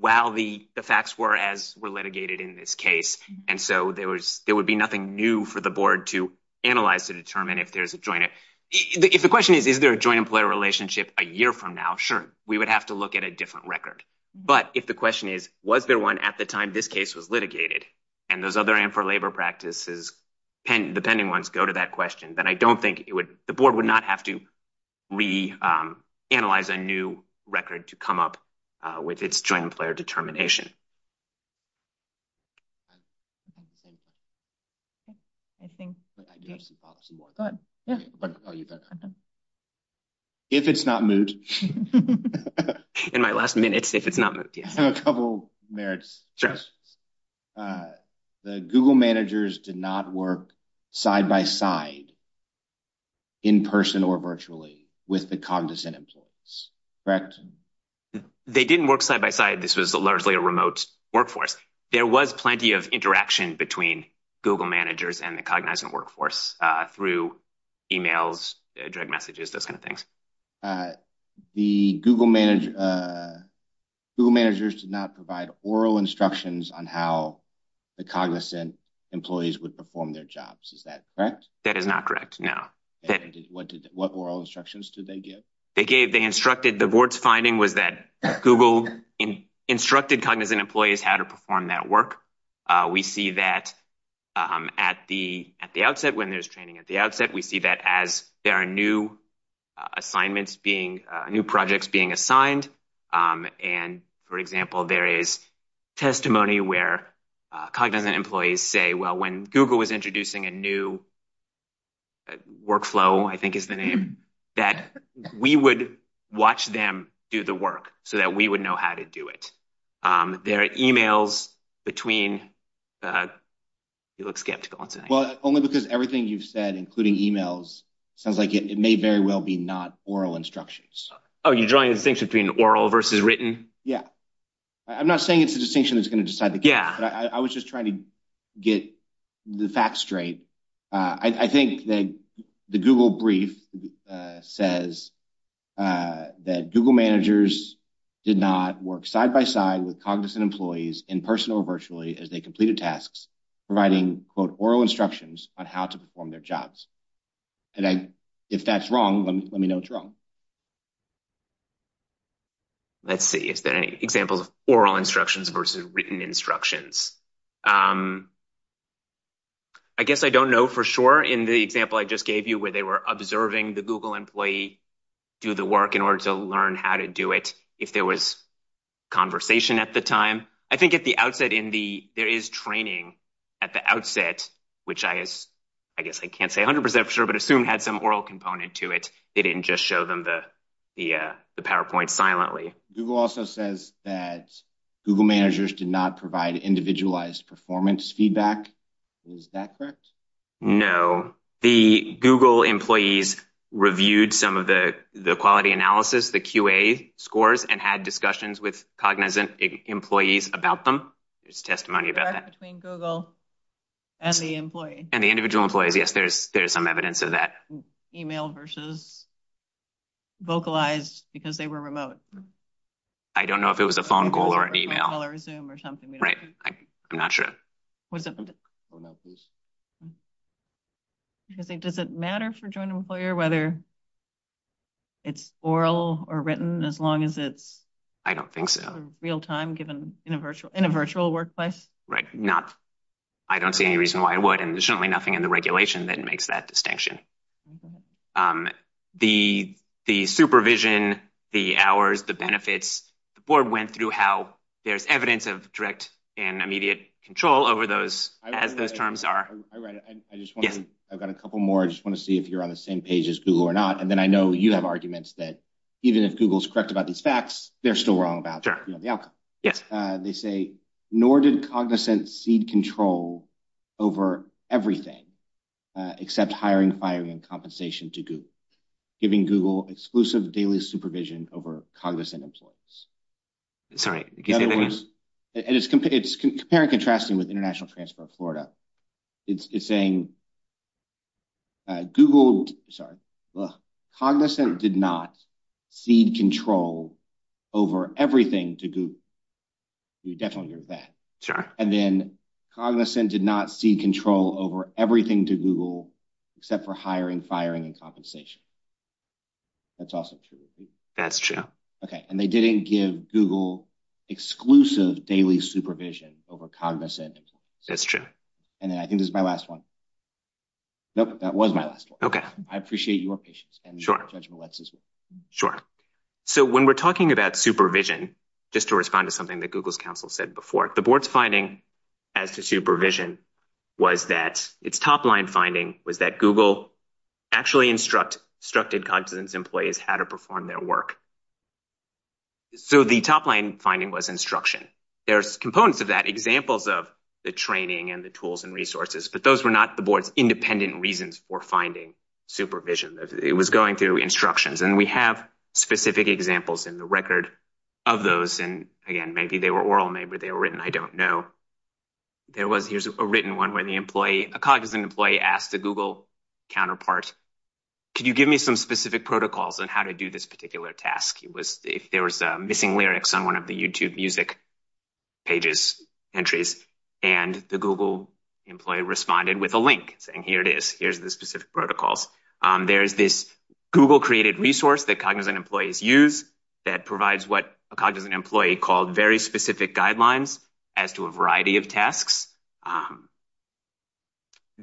while the facts were as were litigated in this case. And so there was, there would be nothing new for the board to analyze to determine if there's a joint. If the question is, is there a joint employer relationship a year from now? Sure, we would have to look at a different record. But if the question is, was there one at the time this case was litigated and those other and for labor practices, the pending ones go to that question, then I don't think it would, the board would not have to reanalyze a new record to come up with its joint employer determination. If it's not moved. In my last minute, if it's not moved, yeah. I have a couple merits. Sure. The Google managers did not work side by side. In person or virtually with the cognizant employees, correct? They didn't work side by side. This was a largely a remote workforce. There was plenty of interaction between Google managers and the cognizant workforce through emails, direct messages, those kind of things. The Google manager, Google managers did not provide oral instructions on how the cognizant employees would perform their jobs. Is that correct? That is not correct. No. What oral instructions did they give? They gave, they instructed the board's finding was that Google instructed cognizant employees how to perform that work. We see that at the outset when there's training at the outset, we see that as there are new assignments being, new projects being assigned. And for example, there is testimony where cognizant employees say, well, when Google was introducing a new workflow, I think it's been named, that we would watch them do the work so that we would know how to do it. There are emails between, you look skeptical. Well, only because everything you've said, including emails, sounds like it may very well be not oral instructions. Oh, you're drawing things between oral versus written? Yeah. I'm not saying it's a distinction that's going to decide the case, but I was just trying to get the facts straight. I think that the Google brief says that Google managers did not work side by side with cognizant employees in person or virtually as they completed tasks, providing, quote, oral instructions on how to perform their jobs. And if that's wrong, let me know it's wrong. Let's see if there are any examples of oral instructions versus written instructions. I guess I don't know for sure in the example I just gave you where they were observing the Google employee do the work in order to learn how to do it if there was conversation at the time. I think at the outset in the, there is training at the outset, which I guess I can't say 100% for sure, but I assume had some oral component to it. They didn't just show them the PowerPoint silently. Google also says that Google managers did not provide individualized performance feedback. Is that correct? No, the Google employees reviewed some of the quality analysis, the QA scores, and had discussions with cognizant employees about them. There's testimony about that. Between Google and the employee. And the individual employees. Yes, there's some evidence of that. Email versus vocalized because they were remote. I don't know if it was a phone call or an email or something. Right, I'm not sure. Does it matter for joint employer whether it's oral or written as long as it's. I don't think so. Real time given in a virtual workplace. Right, not. I don't see any reason why it would. And there's really nothing in the regulation that makes that distinction. The supervision, the hours, the benefits. The board went through how there's evidence of direct and immediate control over those. As those terms are. I've got a couple more. I just want to see if you're on the same page as Google or not. And then I know you have arguments that even if Google's correct about these facts, they're still wrong about the outcome. Yes, they say nor did cognizant seed control over everything except hiring, firing, and compensation to Google. Giving Google exclusive daily supervision over cognizant employees. It's very contrasting with International Transport Florida. It's saying. Google, sorry. Cognizant did not feed control over everything to Google. You definitely heard that. Sure. And then cognizant did not see control over everything to Google except for hiring, firing, and compensation. That's awesome. That's true. OK, and they didn't give Google exclusive daily supervision over cognizant employees. That's true. And I think this is my last one. Nope, that was my last one. OK, I appreciate your patience. Sure. So when we're talking about supervision, just to respond to something that Google's counsel said before, the board's finding as to supervision was that its top line finding was that Google actually instruct instructed cognizant employees how to perform their work. So the top line finding was instruction. There's components of that, examples of the training and the tools and resources. But those were not the board's independent reasons for finding supervision. It was going through instructions. And we have specific examples in the record of those. And again, maybe they were oral. Maybe they were written. I don't know. Here's a written one when the employee, a cognizant employee asked the Google counterpart, could you give me some specific protocols on how to do this particular task? It was if there was missing lyrics on one of the YouTube music pages, entries, and the Google employee responded with a link saying, here it is. Here's the specific protocols. There's this Google created resource that cognizant employees use that provides what a cognizant employee called very specific guidelines as to a variety of tasks.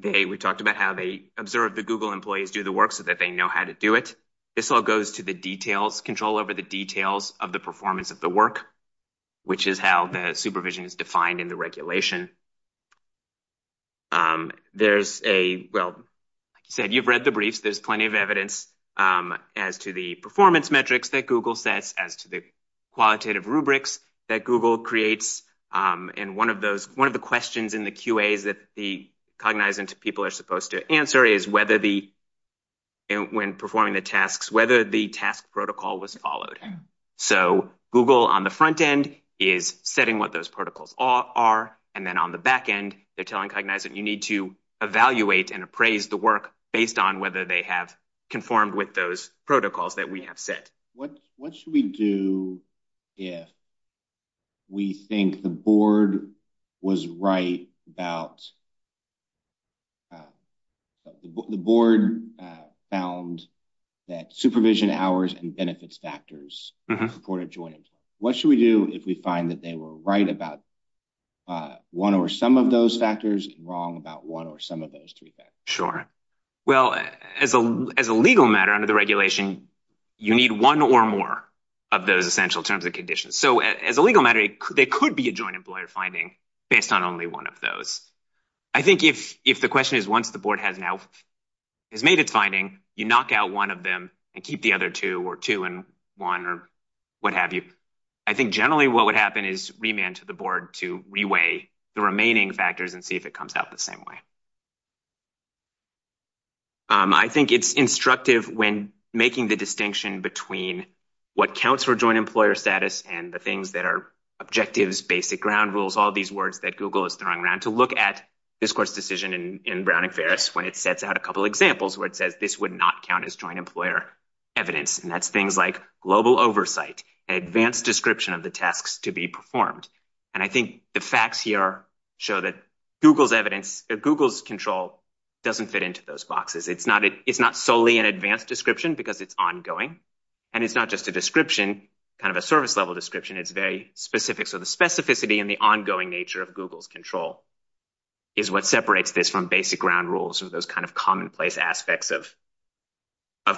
We talked about how they observe the Google employees do the work so that they know how to do it. This all goes to the details, control over the details of the performance of the work, which is how the supervision is defined in the regulation. There's a, well, said you've read the brief. There's plenty of evidence as to the performance metrics that Google sets as to the qualitative rubrics that Google creates. And one of those, one of the questions in the QA is that the cognizant people are supposed to answer is whether the, and when performing the tasks, whether the task protocol was followed. So Google on the front end is setting what those protocols are. And then on the back end, they're telling cognizant you need to evaluate and appraise the work based on whether they have conformed with those protocols that we have set. What should we do if we think the board was right about, the board found that supervision hours and benefits factors supported joint employment. What should we do if we find that they were right about one or some of those factors and wrong about one or some of those three factors? Sure. Well, as a legal matter under the regulation, you need one or more of those essential terms and conditions. So as a legal matter, there could be a joint employer finding based on only one of those. I think if the question is, once the board has made its finding, you knock out one of them and keep the other two or two and one or what have you. I think generally what would happen is remand to the board to reweigh the remaining factors and see if it comes out the same way. I think it's instructive when making the distinction between what counts for joint employer status and the things that are objectives, basic ground rules, all these words that Google is throwing around to look at this course decision in Brown and Ferris when it sets out a couple of examples where it says this would not count as joint employer evidence. And that's things like global oversight, advanced description of the tasks to be performed. And I think the facts here show that Google's evidence, that Google's control doesn't fit into those boxes. It's not solely an advanced description because it's ongoing and it's not just a description, kind of a service level description. It's very specific. So the specificity and the ongoing nature of Google's control is what separates this from basic ground rules and those kind of commonplace aspects of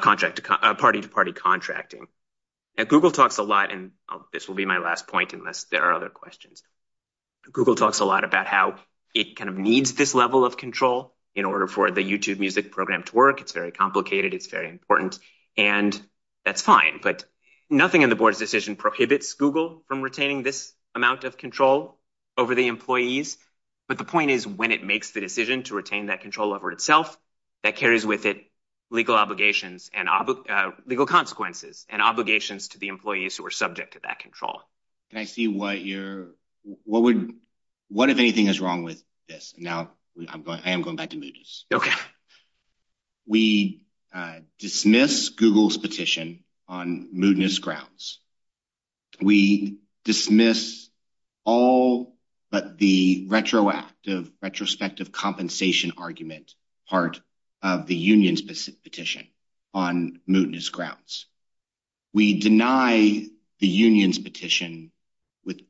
party to party contracting. And Google talks a lot, and this will be my last point unless there are other questions. Google talks a lot about how it kind of needs this level of control in order for the YouTube music program to work. It's very complicated. It's very important. And that's fine, but nothing in the board's decision prohibits Google from retaining this amount of control over the employees. But the point is, when it makes the decision to retain that control over itself, that carries with it legal consequences and obligations to the employees who are subject to that control. Can I see what you're... What if anything is wrong with this? Now, I am going back to mootness. Okay. We dismiss Google's petition on mootness grounds. We dismiss all but the retrospective compensation argument part of the union's petition on mootness grounds. We deny the union's petition with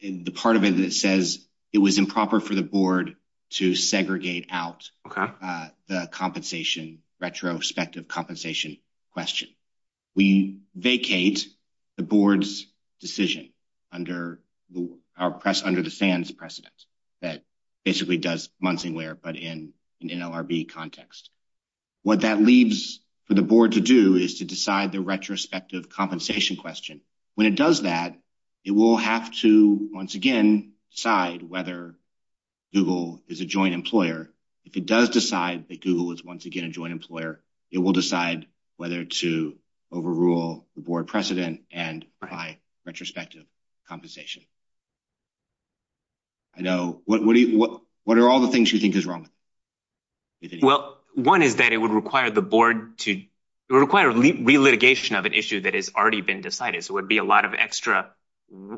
the part of it that says it was improper for the board to segregate out the compensation, retrospective compensation question. We vacate the board's decision under the SANS precedent that basically does months and years but in an LRB context. What that leaves for the board to do is to decide the retrospective compensation question. When it does that, it will have to, once again, decide whether Google is a joint employer. If it does decide that Google is once again a joint employer, it will decide whether to overrule the board precedent and apply retrospective compensation. I know... What are all the things you think is wrong? Well, one is that it would require the board to... It would require a relitigation of an issue that has already been decided. So it would be a lot of extra,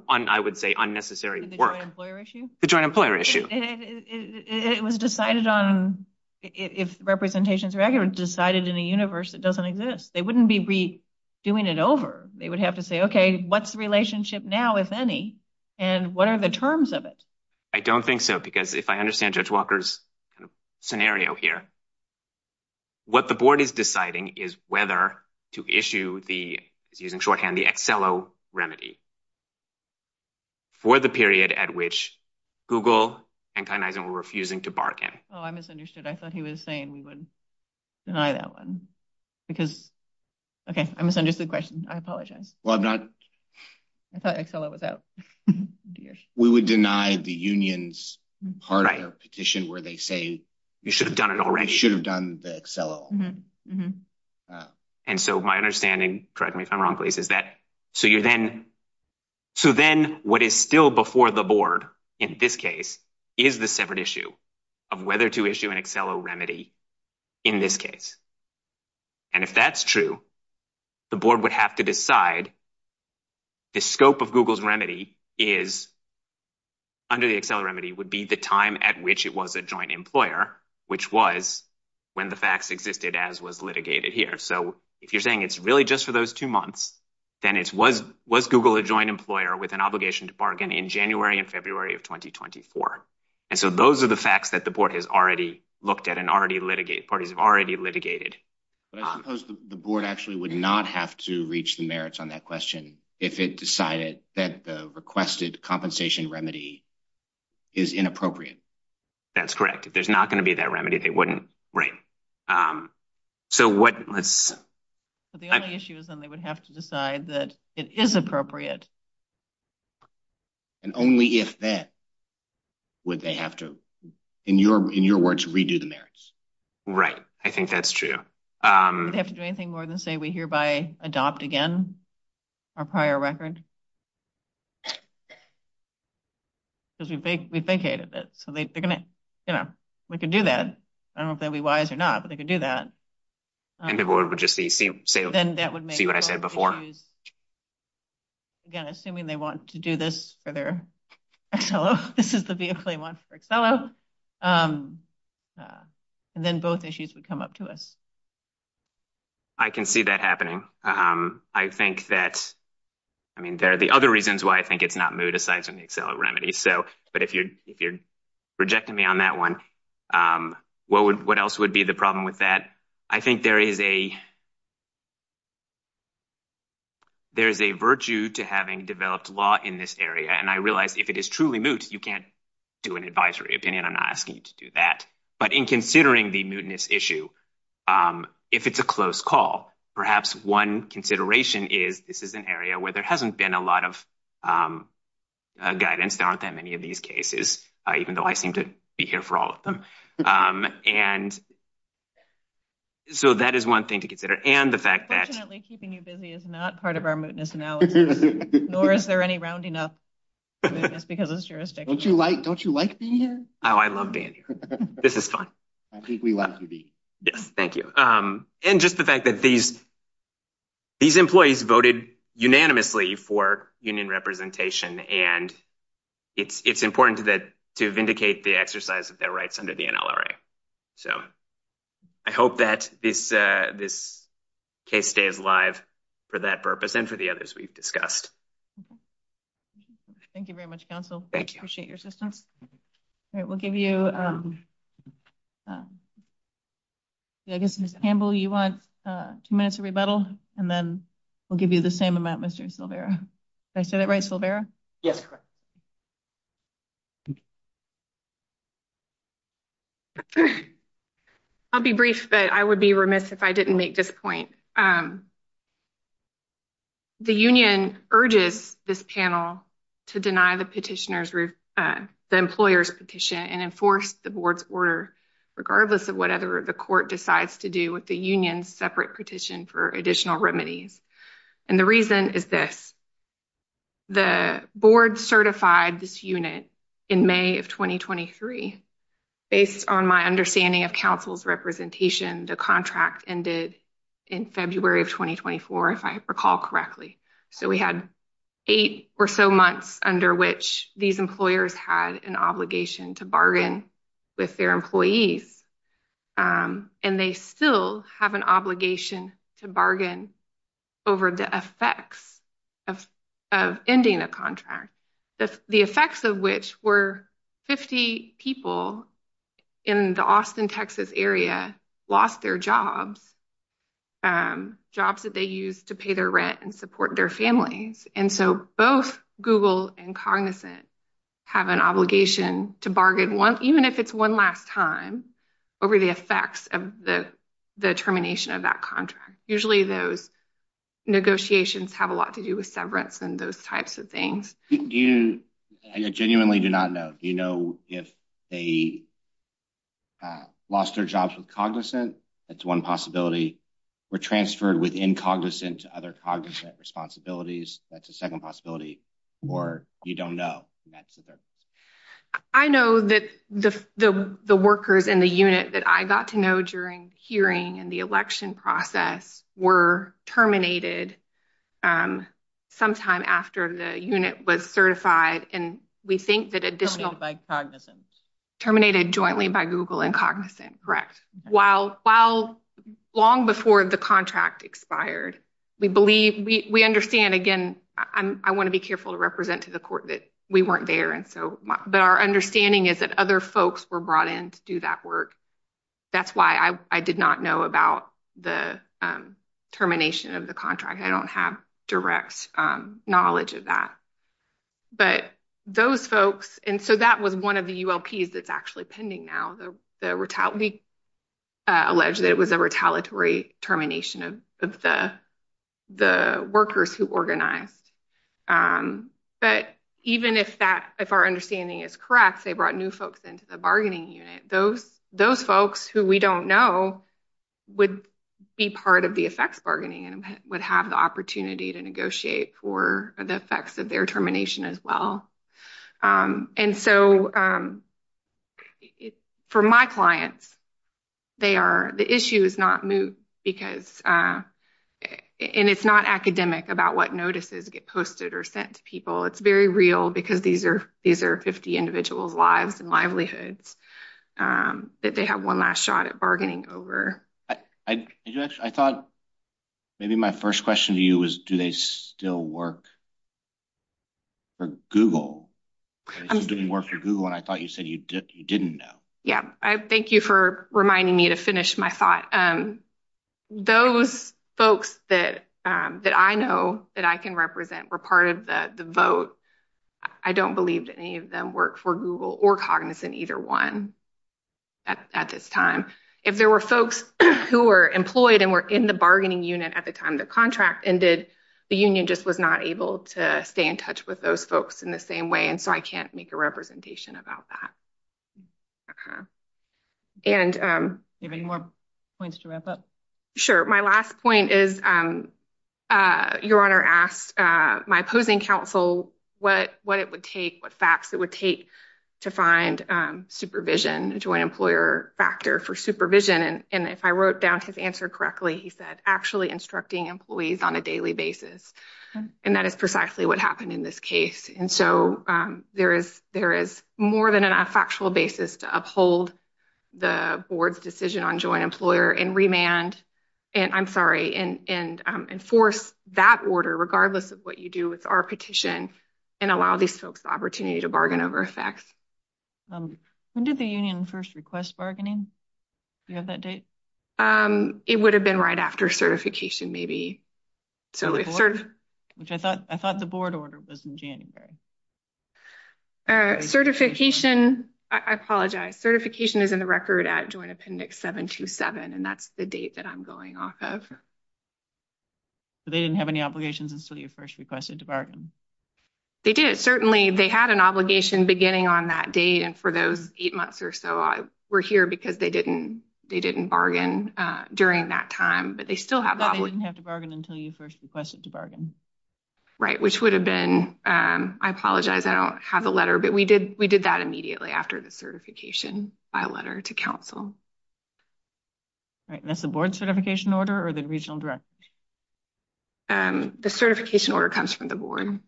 I would say, unnecessary work. The joint employer issue? The joint employer issue. It was decided on... If representations are ever decided in a universe that doesn't exist, they wouldn't be redoing it over. They would have to say, OK, what's the relationship now, if any, and what are the terms of it? I don't think so, because if I understand Judge Walker's scenario here, what the board is deciding is whether to issue the, using shorthand, the XLO remedy for the period at which Google and Kainizen were refusing to bargain. Oh, I misunderstood. I thought he was saying we would deny that one, because... OK, I misunderstood the question. I apologize. Well, I'm not... I thought XLO was out. We would deny the union's part of the petition where they say, you should have done it already. You should have done the XLO. And so my understanding, correct me if I'm wrong, please, is that, so you then... So then what is still before the board, in this case, is the separate issue of whether to issue an XLO remedy in this case. And if that's true, the board would have to decide the scope of Google's remedy is, under the XLO remedy, would be the time at which it was a joint employer, which was when the facts existed as was litigated here. So if you're saying it's really just for those two months, then it was Google a joint employer with an obligation to bargain in January and February of 2024. And so those are the facts that the board has already looked at and parties have already litigated. But I suppose the board actually would not have to reach the merits on that question if it decided that the requested compensation remedy is inappropriate. That's correct. If there's not going to be that remedy, they wouldn't. So what, let's... So the only issue is then they would have to decide that it is appropriate. And only if that. Would they have to, in your words, redo the merits. Right. I think that's true. They have to do anything more than say we hereby adopt again our prior record. Because we vacated this. So they're going to, you know, we can do that. I don't know if they'd be wise or not, but they could do that. And the board would just see what I said before. Again, assuming they want to do this for their XLO, this is the vehicle they want for XLO. And then both issues would come up to us. I can see that happening. I think that, I mean, there are the other reasons why I think it's not moot aside from the XLO remedy. So, but if you're rejecting me on that one, what else would be the problem with that? I think there is a, there's a virtue to having developed law in this area. And I realize if it is truly moot, you can't do an advisory opinion. I'm not asking you to do that. But in considering the mootness issue, if it's a close call, perhaps one consideration is this is an area where there hasn't been a lot of guidance down to that many of these cases, even though I seem to be here for all of them. And so that is one thing to consider. And the fact that... Fortunately, keeping you busy is not part of our mootness analysis. Nor is there any rounding up That's because it's jurisdiction. Don't you like being here? Oh, I love being here. This is fun. Thank you. And just the fact that these employees voted unanimously for union representation. And it's important to vindicate the exercise of their rights under the NLRA. So I hope that this case stays alive for that purpose and for the others we've discussed. Thank you very much, counsel. Thank you. Appreciate your assistance. All right, we'll give you... I guess, Ms. Campbell, you want two minutes to rebuttal and then we'll give you the same amount, Mr. Silvera. Did I say that right, Silvera? Yes. I'll be brief, but I would be remiss if I didn't make this point. The union urges this panel to deny the petitioner's... the employer's petition and enforce the board's order, regardless of what other the court decides to do with the union's separate petition for additional remedies. And the reason is that the board certified this unit in May of 2023. Based on my understanding of counsel's representation, the contract ended in February of 2024, if I recall correctly. So we had eight or so months under which these employers had an obligation to bargain with their employees. And they still have an obligation to bargain over the effects of ending the contract. The effects of which were 50 people in the Austin, Texas area lost their jobs, jobs that they used to pay their rent and support their families. And so both Google and Cognizant have an obligation to bargain once, even if it's one last time, over the effects of the termination of that contract. Usually those negotiations have a lot to do with severance and those types of things. I genuinely do not know. Do you know if they lost their jobs with Cognizant? That's one possibility. Were transferred within Cognizant to other Cognizant responsibilities? That's a second possibility. Or you don't know. I know that the workers in the unit that I got to know during hearing and the election process were terminated sometime after the unit was certified. And we think that additional termination terminated jointly by Google and Cognizant. While long before the contract expired, we believe we understand. Again, I want to be careful to represent to the court that we weren't there. But our understanding is that other folks were brought in to do that work. That's why I did not know about the termination of the contract. I don't have direct knowledge of that. But those folks. And so that was one of the ULPs that's actually pending now. The retaliatory termination of the workers who organized. But even if that, if our understanding is correct, they brought new folks into the bargaining unit. Those folks who we don't know would be part of the effects bargaining and would have the opportunity to negotiate for the effects of their termination as well. And so for my clients, they are, the issue is not moved because and it's not academic about what notices get posted or sent to people. It's very real because these are 50 individuals lives and livelihoods that they have one last shot at bargaining over. I thought maybe my first question to you was do they still work for Google? I'm doing work for Google. And I thought you said you didn't know. Yeah, I thank you for reminding me to finish my thought. Those folks that I know that I can represent were part of the vote. I don't believe that any of them work for Google or Cognizant either one at this time. If there were folks who were employed and were in the bargaining unit at the time the contract ended, the union just was not able to stay in touch with those folks in the same way. And so I can't make a representation about that. And you have any more points to wrap up? My last point is your honor asked my opposing counsel what it would take, what facts it would take to find supervision, joint employer factor for supervision. And if I wrote down his answer correctly, he said actually instructing employees on a daily basis. And that is precisely what happened in this case. And so there is more than a factual basis to uphold the board's decision on joint employer and remand, and I'm sorry, and enforce that order regardless of what you do with our petition and allow these folks opportunity to bargain over effects. When did the union first request bargaining? Do you have that date? It would have been right after certification maybe. So I thought the board order was in January. Certification, I apologize. Certification is in the record at Joint Appendix 727, and that's the date that I'm going off of. So they didn't have any obligations until you first requested to bargain? They did. Certainly they had an obligation beginning on that date. And for those eight months or so, I were here because they didn't they didn't bargain during that time, but they still have. They didn't have to bargain until you first requested to bargain. Right, which would have been, I apologize. I don't have a letter, but we did. We did that immediately after the certification by letter to council. Right, that's the board certification order or the regional director? The certification order comes from the board.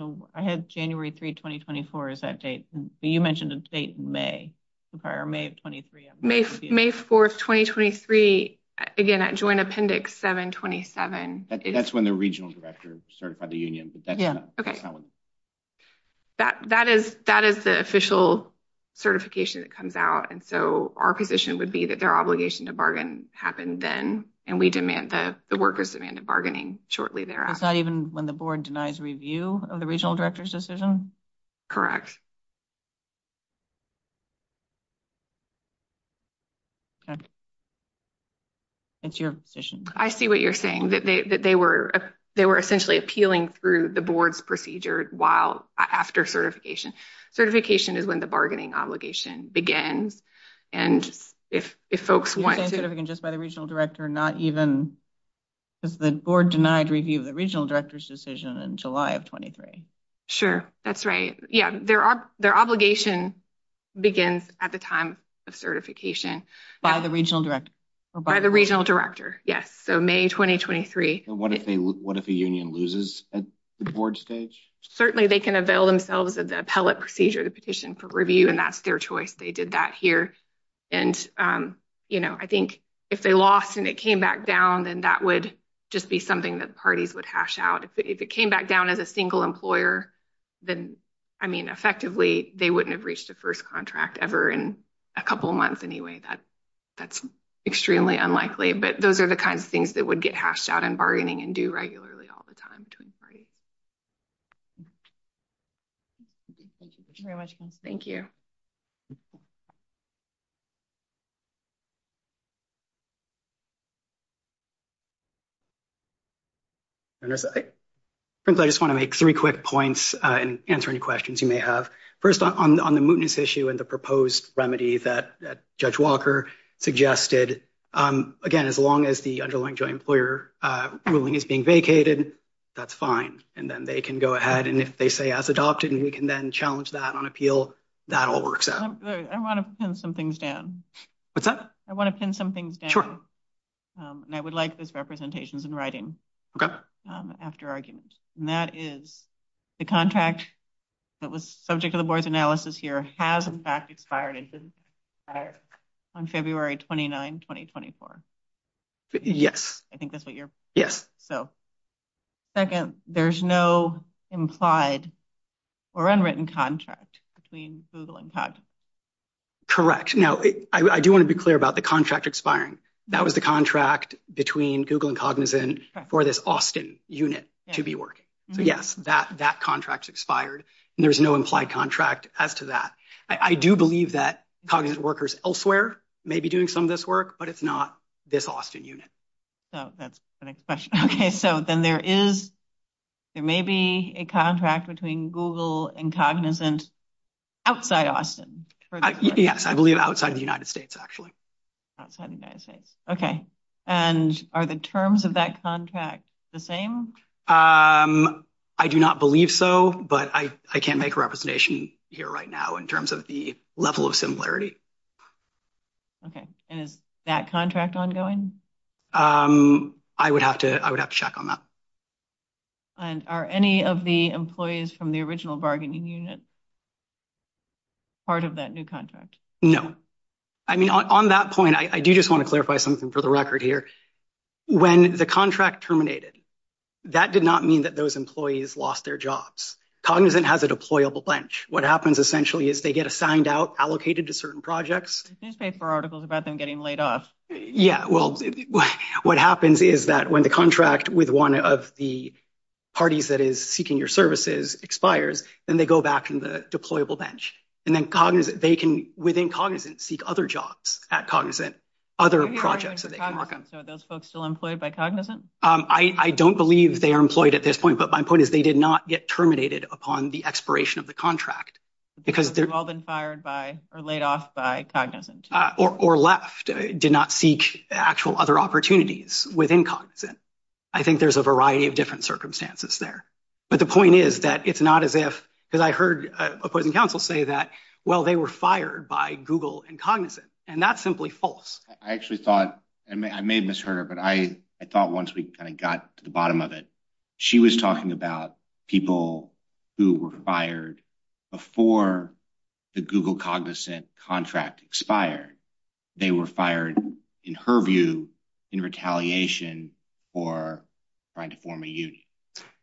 So I had January 3, 2024, is that date you mentioned the date May, the prior May of 23. May 4, 2023, again at Joint Appendix 727. That's when the regional director certified the union. That is that is the official certification that comes out. And so our position would be that their obligation to bargain happened then and we demand that the workers demanded bargaining shortly thereafter. Even when the board denies review of the regional director's decision? Correct. That's your position. I see what you're saying, that they were they were essentially appealing through the board's procedure while after certification. Certification is when the bargaining obligation begins. And if if folks want to just by the regional director, not even the board denied review of the regional director's decision in July of 23. Sure, that's right. Yeah, there are their obligation begins at the time of certification. By the regional director. By the regional director. Yes, so May 2023. What if the union loses at the board stage? Certainly they can avail themselves of the appellate procedure, the petition for review, and that's their choice. They did that here. And, you know, I think if they lost and it came back down, then that would just be something that parties would hash out. If it came back down as a single employer, then I mean, effectively, they wouldn't have reached the first contract ever in a couple of months. Anyway, that that's extremely unlikely, but those are the kinds of things that would get hashed out and bargaining and do regularly all the time. Thank you. Friends, I just want to make three quick points and answer any questions you may have. First on the mootness issue and the proposed remedy that Judge Walker suggested. Again, as long as the underlying joint employer ruling is being vacated, that's fine. And then they can go ahead. And if they say as adopted, we can then challenge that on appeal. That all works out. I want to pin some things down. What's that? I want to pin something. I would like this representations in writing after arguments. And that is the contract that was subject to the board's analysis here has in fact expired. On February 29, 2024. Yes, I think that's what you're. So second, there's no implied or unwritten contract between Google and Cognizant. Correct. Now, I do want to be clear about the contract expiring. That was the contract between Google and Cognizant for this Austin unit to be working. Yes, that that contract expired. There's no implied contract as to that. I do believe that Cognizant workers elsewhere may be doing some of this work, but it's not this Austin unit. So that's the next question. OK, so then there is. There may be a contract between Google and Cognizant outside Austin. Yes, I believe outside the United States, actually. Outside the United States. OK, and are the terms of that contract the same? I do not believe so, but I can't make a representation here right now in terms of the level of similarity. OK, and is that contract ongoing? I would have to. I would have to check on that. And are any of the employees from the original bargaining unit? Part of that new contract? No, I mean, on that point, I do just want to clarify something for the record here. When the contract terminated, that did not mean that those employees lost their jobs. Cognizant has a deployable bench. What happens essentially is they get assigned out, allocated to certain projects. These paper articles about them getting laid off. Yeah, well, what happens is that when the contract with one of the parties that is seeking your services expires and they go back from the deployable bench and then Cognizant, they can within Cognizant seek other jobs at Cognizant. Other projects. Those folks still employed by Cognizant? I don't believe they are employed at this point, but my point is they did not get terminated upon the expiration of the contract. Because they've all been fired by or laid off by Cognizant. Or left, did not seek actual other opportunities within Cognizant. I think there's a variety of different circumstances there. But the point is that it's not as if, because I heard a point in counsel say that, well, they were fired by Google and Cognizant and that's simply false. I actually thought, and I may have misheard her, but I thought once we kind of got to the bottom of it, she was talking about people who were fired before the Google Cognizant contract expired. They were fired, in her view, in retaliation for trying to form a union.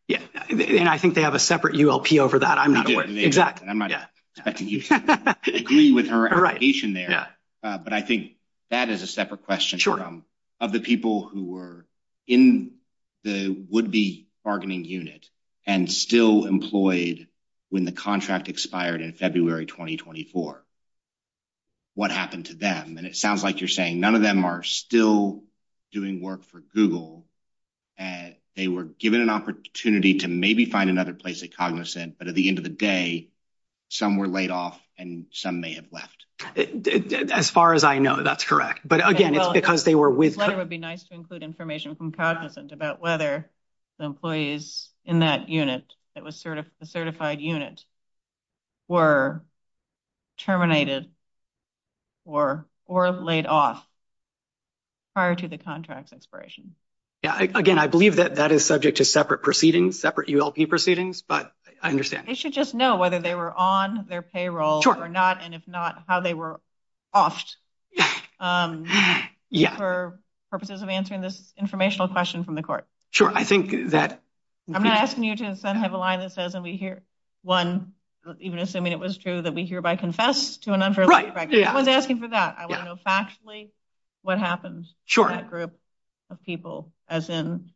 Yes, and I think they have a separate ULP over that. I'm not aware. But I think that is a separate question of the people who were in the would-be bargaining unit and still employed when the contract expired in February 2024. What happened to them? And it sounds like you're saying none of them are still doing work for Google. And they were given an opportunity to maybe find another place at Cognizant. But at the end of the day, some were laid off and some may have left. As far as I know, that's correct. But again, it's because they were with- It would be nice to include information from Cognizant about whether the employees in that unit, that was the certified unit, were terminated or laid off prior to the contract expiration. Yeah, again, I believe that that is subject to separate proceedings, separate ULP proceedings. But I understand. They should just know whether they were on their payroll or not, and if not, how they were offed for purposes of answering this informational question from the court. Sure, I think that- I'm asking you to have a line that says, and we hear one, even assuming it was true, that we hereby confess to an under- Right, yeah. I was asking for that. I want to know factually what happens to that group of people, as in,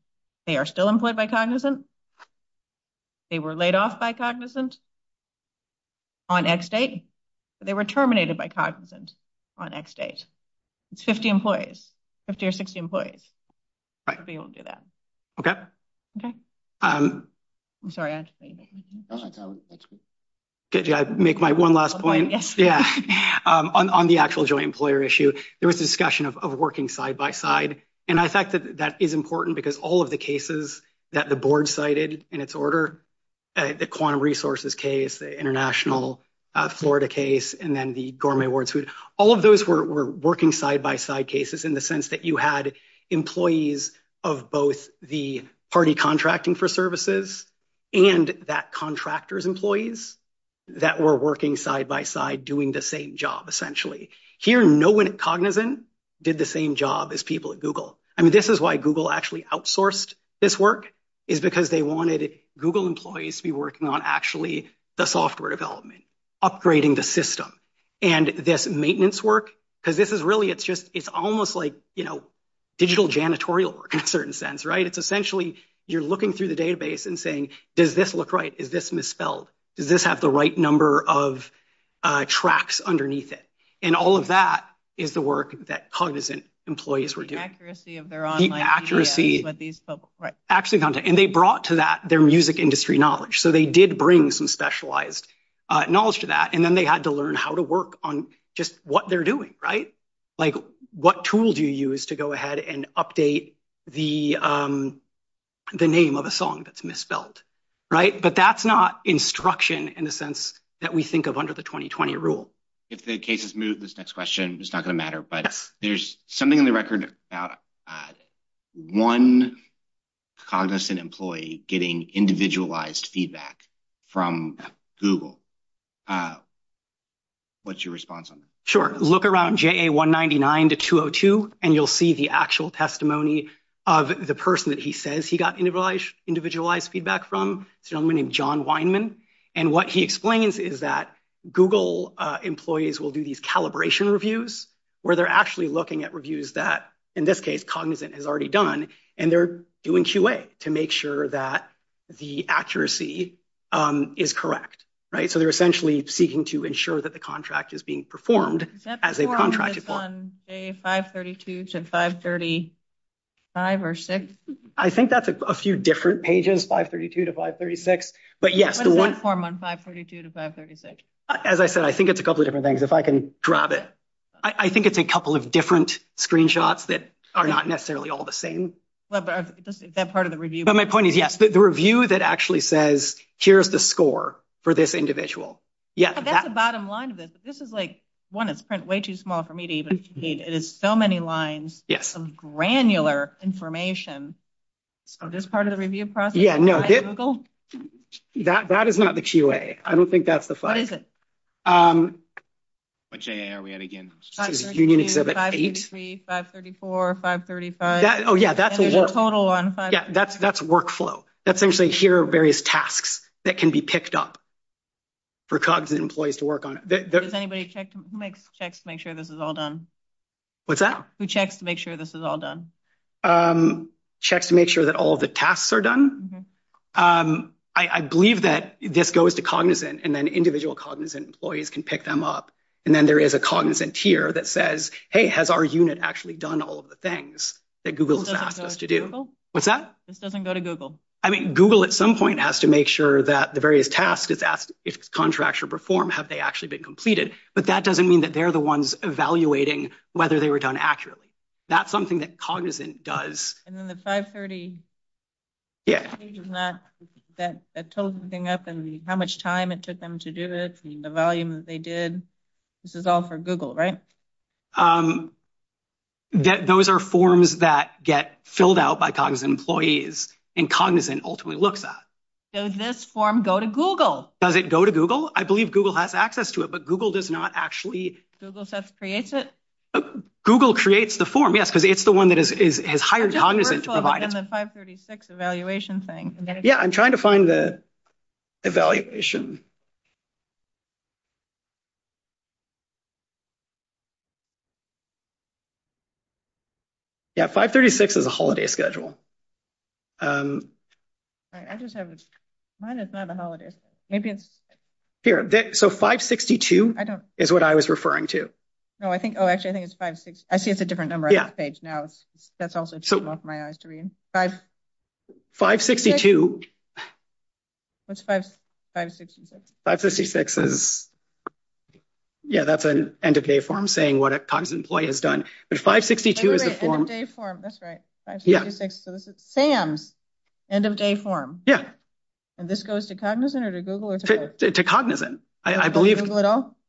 they are still employed by Cognizant, they were laid off by Cognizant on X date, but they were terminated by Cognizant on X date. It's 50 employees, 50 or 60 employees. Right. So you won't do that. Okay. Okay. I'm sorry, I have to say that. Did I make my one last point? Yeah, on the actual joint employer issue, there was a discussion of working side by side, and I think that is important because all of the cases that the board cited in its order, the quantum resources case, the international Florida case, and then the gourmet awards suit, all of those were working side by side cases in the sense that you had employees of both the party contracting for services and that contractor's employees that were working side by side doing the same job, essentially. Here, no one at Cognizant did the same job as people at Google. I mean, this is why Google actually outsourced this work is because they wanted Google employees to be working on actually the software development, upgrading the system. And this maintenance work, because this is really, it's just, it's almost like, digital janitorial work in a certain sense, right? It's essentially, you're looking through the database and saying, does this look right? Is this misspelled? Does this have the right number of tracks underneath it? And all of that is the work that Cognizant employees were doing. The accuracy of their online The accuracy. But these public, right? Actually, and they brought to that their music industry knowledge. So they did bring some specialized knowledge to that. And then they had to learn how to work on just what they're doing, right? Like, what tools do you use to go ahead and update the name of a song that's misspelled, right? But that's not instruction in the sense that we think of under the 2020 rule. If the case is moved, this next question, it's not going to matter. But there's something in the record about one Cognizant employee getting individualized feedback from Google. What's your response on that? Sure, look around JA 199 to 202 and you'll see the actual testimony of the person that he says he got individualized feedback from a gentleman named John Weinman. And what he explains is that Google employees will do these calibration reviews where they're actually looking at reviews that, in this case, Cognizant has already done and they're doing QA to make sure that the accuracy is correct, right? So they're essentially seeking to ensure that the contract is being performed as a contracted form. Is that on 532 to 535 or 6? I think that's a few different pages, 532 to 536. But yes, the one form on 532 to 536. As I said, I think it's a couple of different things. If I can grab it. I think it's a couple of different screenshots that are not necessarily all the same. But that part of the review. But my point is, yes, the review that actually says here's the score for this individual. Yeah, that's the bottom line of it. This is like one. It's print way too small for me to even see. It is so many lines. Yes, some granular information. So this part of the review process. Yeah, no, that is not the QA. I don't think that's the 5. What is it? What QA are we at again? 532, 533, 534, 535. Oh, yeah, that's a total on 535. That's workflow. That's essentially here are various tasks that can be picked up for Cognizant employees to work on it. Does anybody check? Who makes checks to make sure this is all done? What's that? Who checks to make sure this is all done? Checks to make sure that all the tasks are done. I believe that this goes to Cognizant and then individual Cognizant employees can pick them up. And then there is a Cognizant tier that says, hey, has our unit actually done all of the things that Google has asked us to do? What's that? This doesn't go to Google. I mean, Google at some point has to make sure that the various tasks it's contractual perform. Have they actually been completed? But that doesn't mean that they're the ones evaluating whether they were done accurately. That's something that Cognizant does. And then the 530. Yeah, that that total thing up and how much time it took them to do it. The volume that they did. This is all for Google, right? Those are forms that get filled out by Cognizant employees and Cognizant ultimately looks at. Does this form go to Google? Does it go to Google? I believe Google has access to it, but Google does not actually. Google just creates it. Google creates the form. Yes, because it's the one that is higher. Cognizant 536 evaluation thing. Yeah, I'm trying to find the. Evaluation. Yeah, 536 is a holiday schedule. I just have mine. It's not a holiday. Maybe it's here. So 562 is what I was referring to. No, I think. Oh, actually, I think it's 560. I see it's a different number. Yeah, it's now. That's also took off my eyes to read. 562. What's 566? 566 is. Yeah, that's an end of day form saying what a Cognizant employee has done. But 562 is a form. That's right. Yeah, so this is Sam's end of day form. Yeah, and this goes to Cognizant to Cognizant. I believe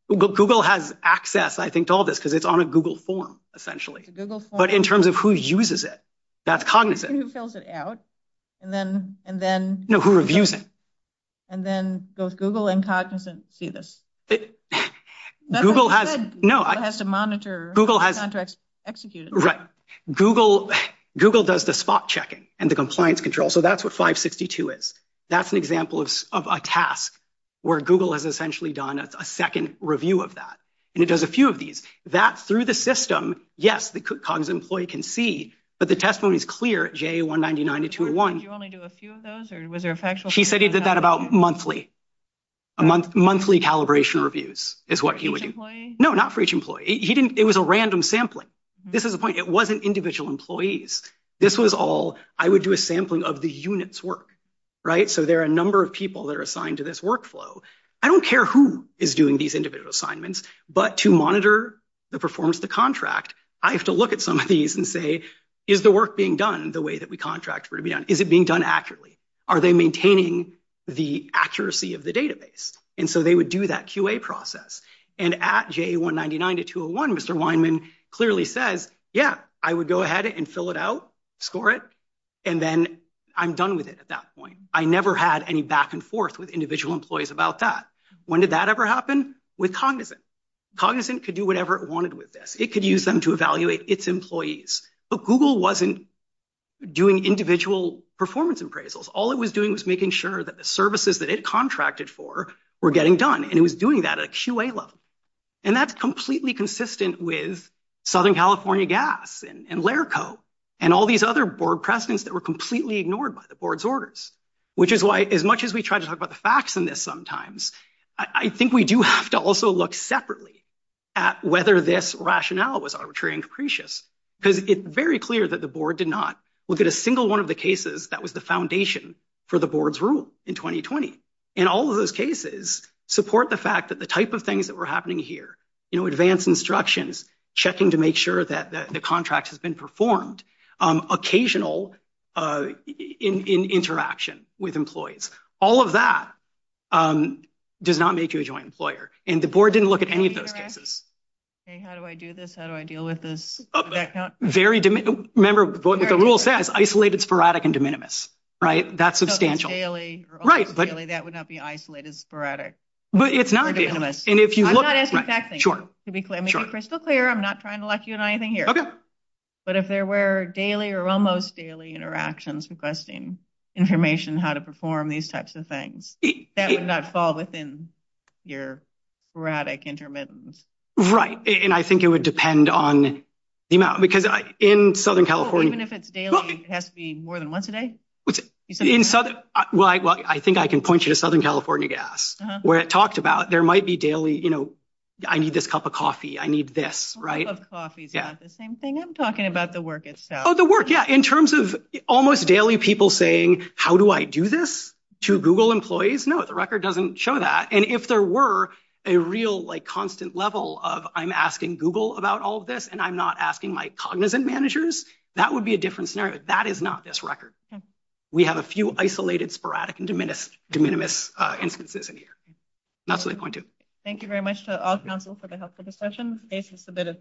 Google has access. I think all this because it's on a Google form essentially, but in terms of who uses it. That's Cognizant. Who fills it out and then and then know who reviews it. And then those Google and Cognizant see this. Google has no. I have to monitor. Google has executed. Right, Google. Google does the spot checking and the compliance control. So that's what 562 is. That's an example of a task where Google has essentially done a second review of that. And it does a few of these that through the system. Yes, the Cognizant employee can see, but the testimony is clear. J199 to 201. You only do a few of those or was there a factual? She said he did that about monthly. Monthly calibration reviews is what he would do. No, not for each employee. He didn't. It was a random sampling. This is the point. It wasn't individual employees. This was all. I would do a sampling of the units work. Right? So there are a number of people that are assigned to this workflow. I don't care who is doing these individual assignments, but to monitor the performance, the contract, I have to look at some of these and say, is the work being done the way that we contract? Is it being done accurately? Are they maintaining the accuracy of the database? And so they would do that QA process and at J199 to 201, Mr. Weinman clearly says, yeah, I would go ahead and fill it out, score it, and then I'm done with it at that point. I never had any back and forth with individual employees about that. When did that ever happen? With Cognizant. Cognizant could do whatever it wanted with this. It could use them to evaluate its employees. But Google wasn't doing individual performance appraisals. All it was doing was making sure that the services that it contracted for were getting done. And it was doing that at a QA level. And that's completely consistent with Southern California Gas and Larico and all these other board precedents that were completely ignored by the board's orders, which is why as much as we try to talk about the facts in this sometimes, I think we do have to also look separately at whether this rationale was arbitrary and capricious. Because it's very clear that the board did not look at a single one of the cases that was the foundation for the board's rule in 2020. And all of those cases support the fact that the type of things that were happening here, you know, advanced instructions, checking to make sure the contract has been performed. Occasional interaction with employees. All of that does not make you a joint employer. And the board didn't look at any of those cases. Okay, how do I do this? How do I deal with this? Very, remember what the rule says, isolated, sporadic, and de minimis. Right? That's substantial. Daily, that would not be isolated, sporadic. But it's not de minimis. And if you look at that thing, sure, to be crystal clear, I'm not trying to lock you on anything here. But if there were daily or almost daily interactions requesting information on how to perform these types of things, that would not fall within your sporadic intermittence. Right. And I think it would depend on the amount, because in Southern California, even if it's daily, it has to be more than once a day. In Southern, well, I think I can point you to Southern California gas, where it talked about there might be daily, you know, I need this cup of coffee. I need this, right? The same thing. I'm talking about the work itself. Oh, the work. Yeah. In terms of almost daily people saying, how do I do this to Google employees? No, the record doesn't show that. And if there were a real, like, constant level of I'm asking Google about all this and I'm not asking my cognizant managers, that would be a different scenario. That is not this record. We have a few isolated, sporadic, and de minimis instances in here. That's my point, too. Thank you very much to all council for the helpful discussion. Thank you for submitting.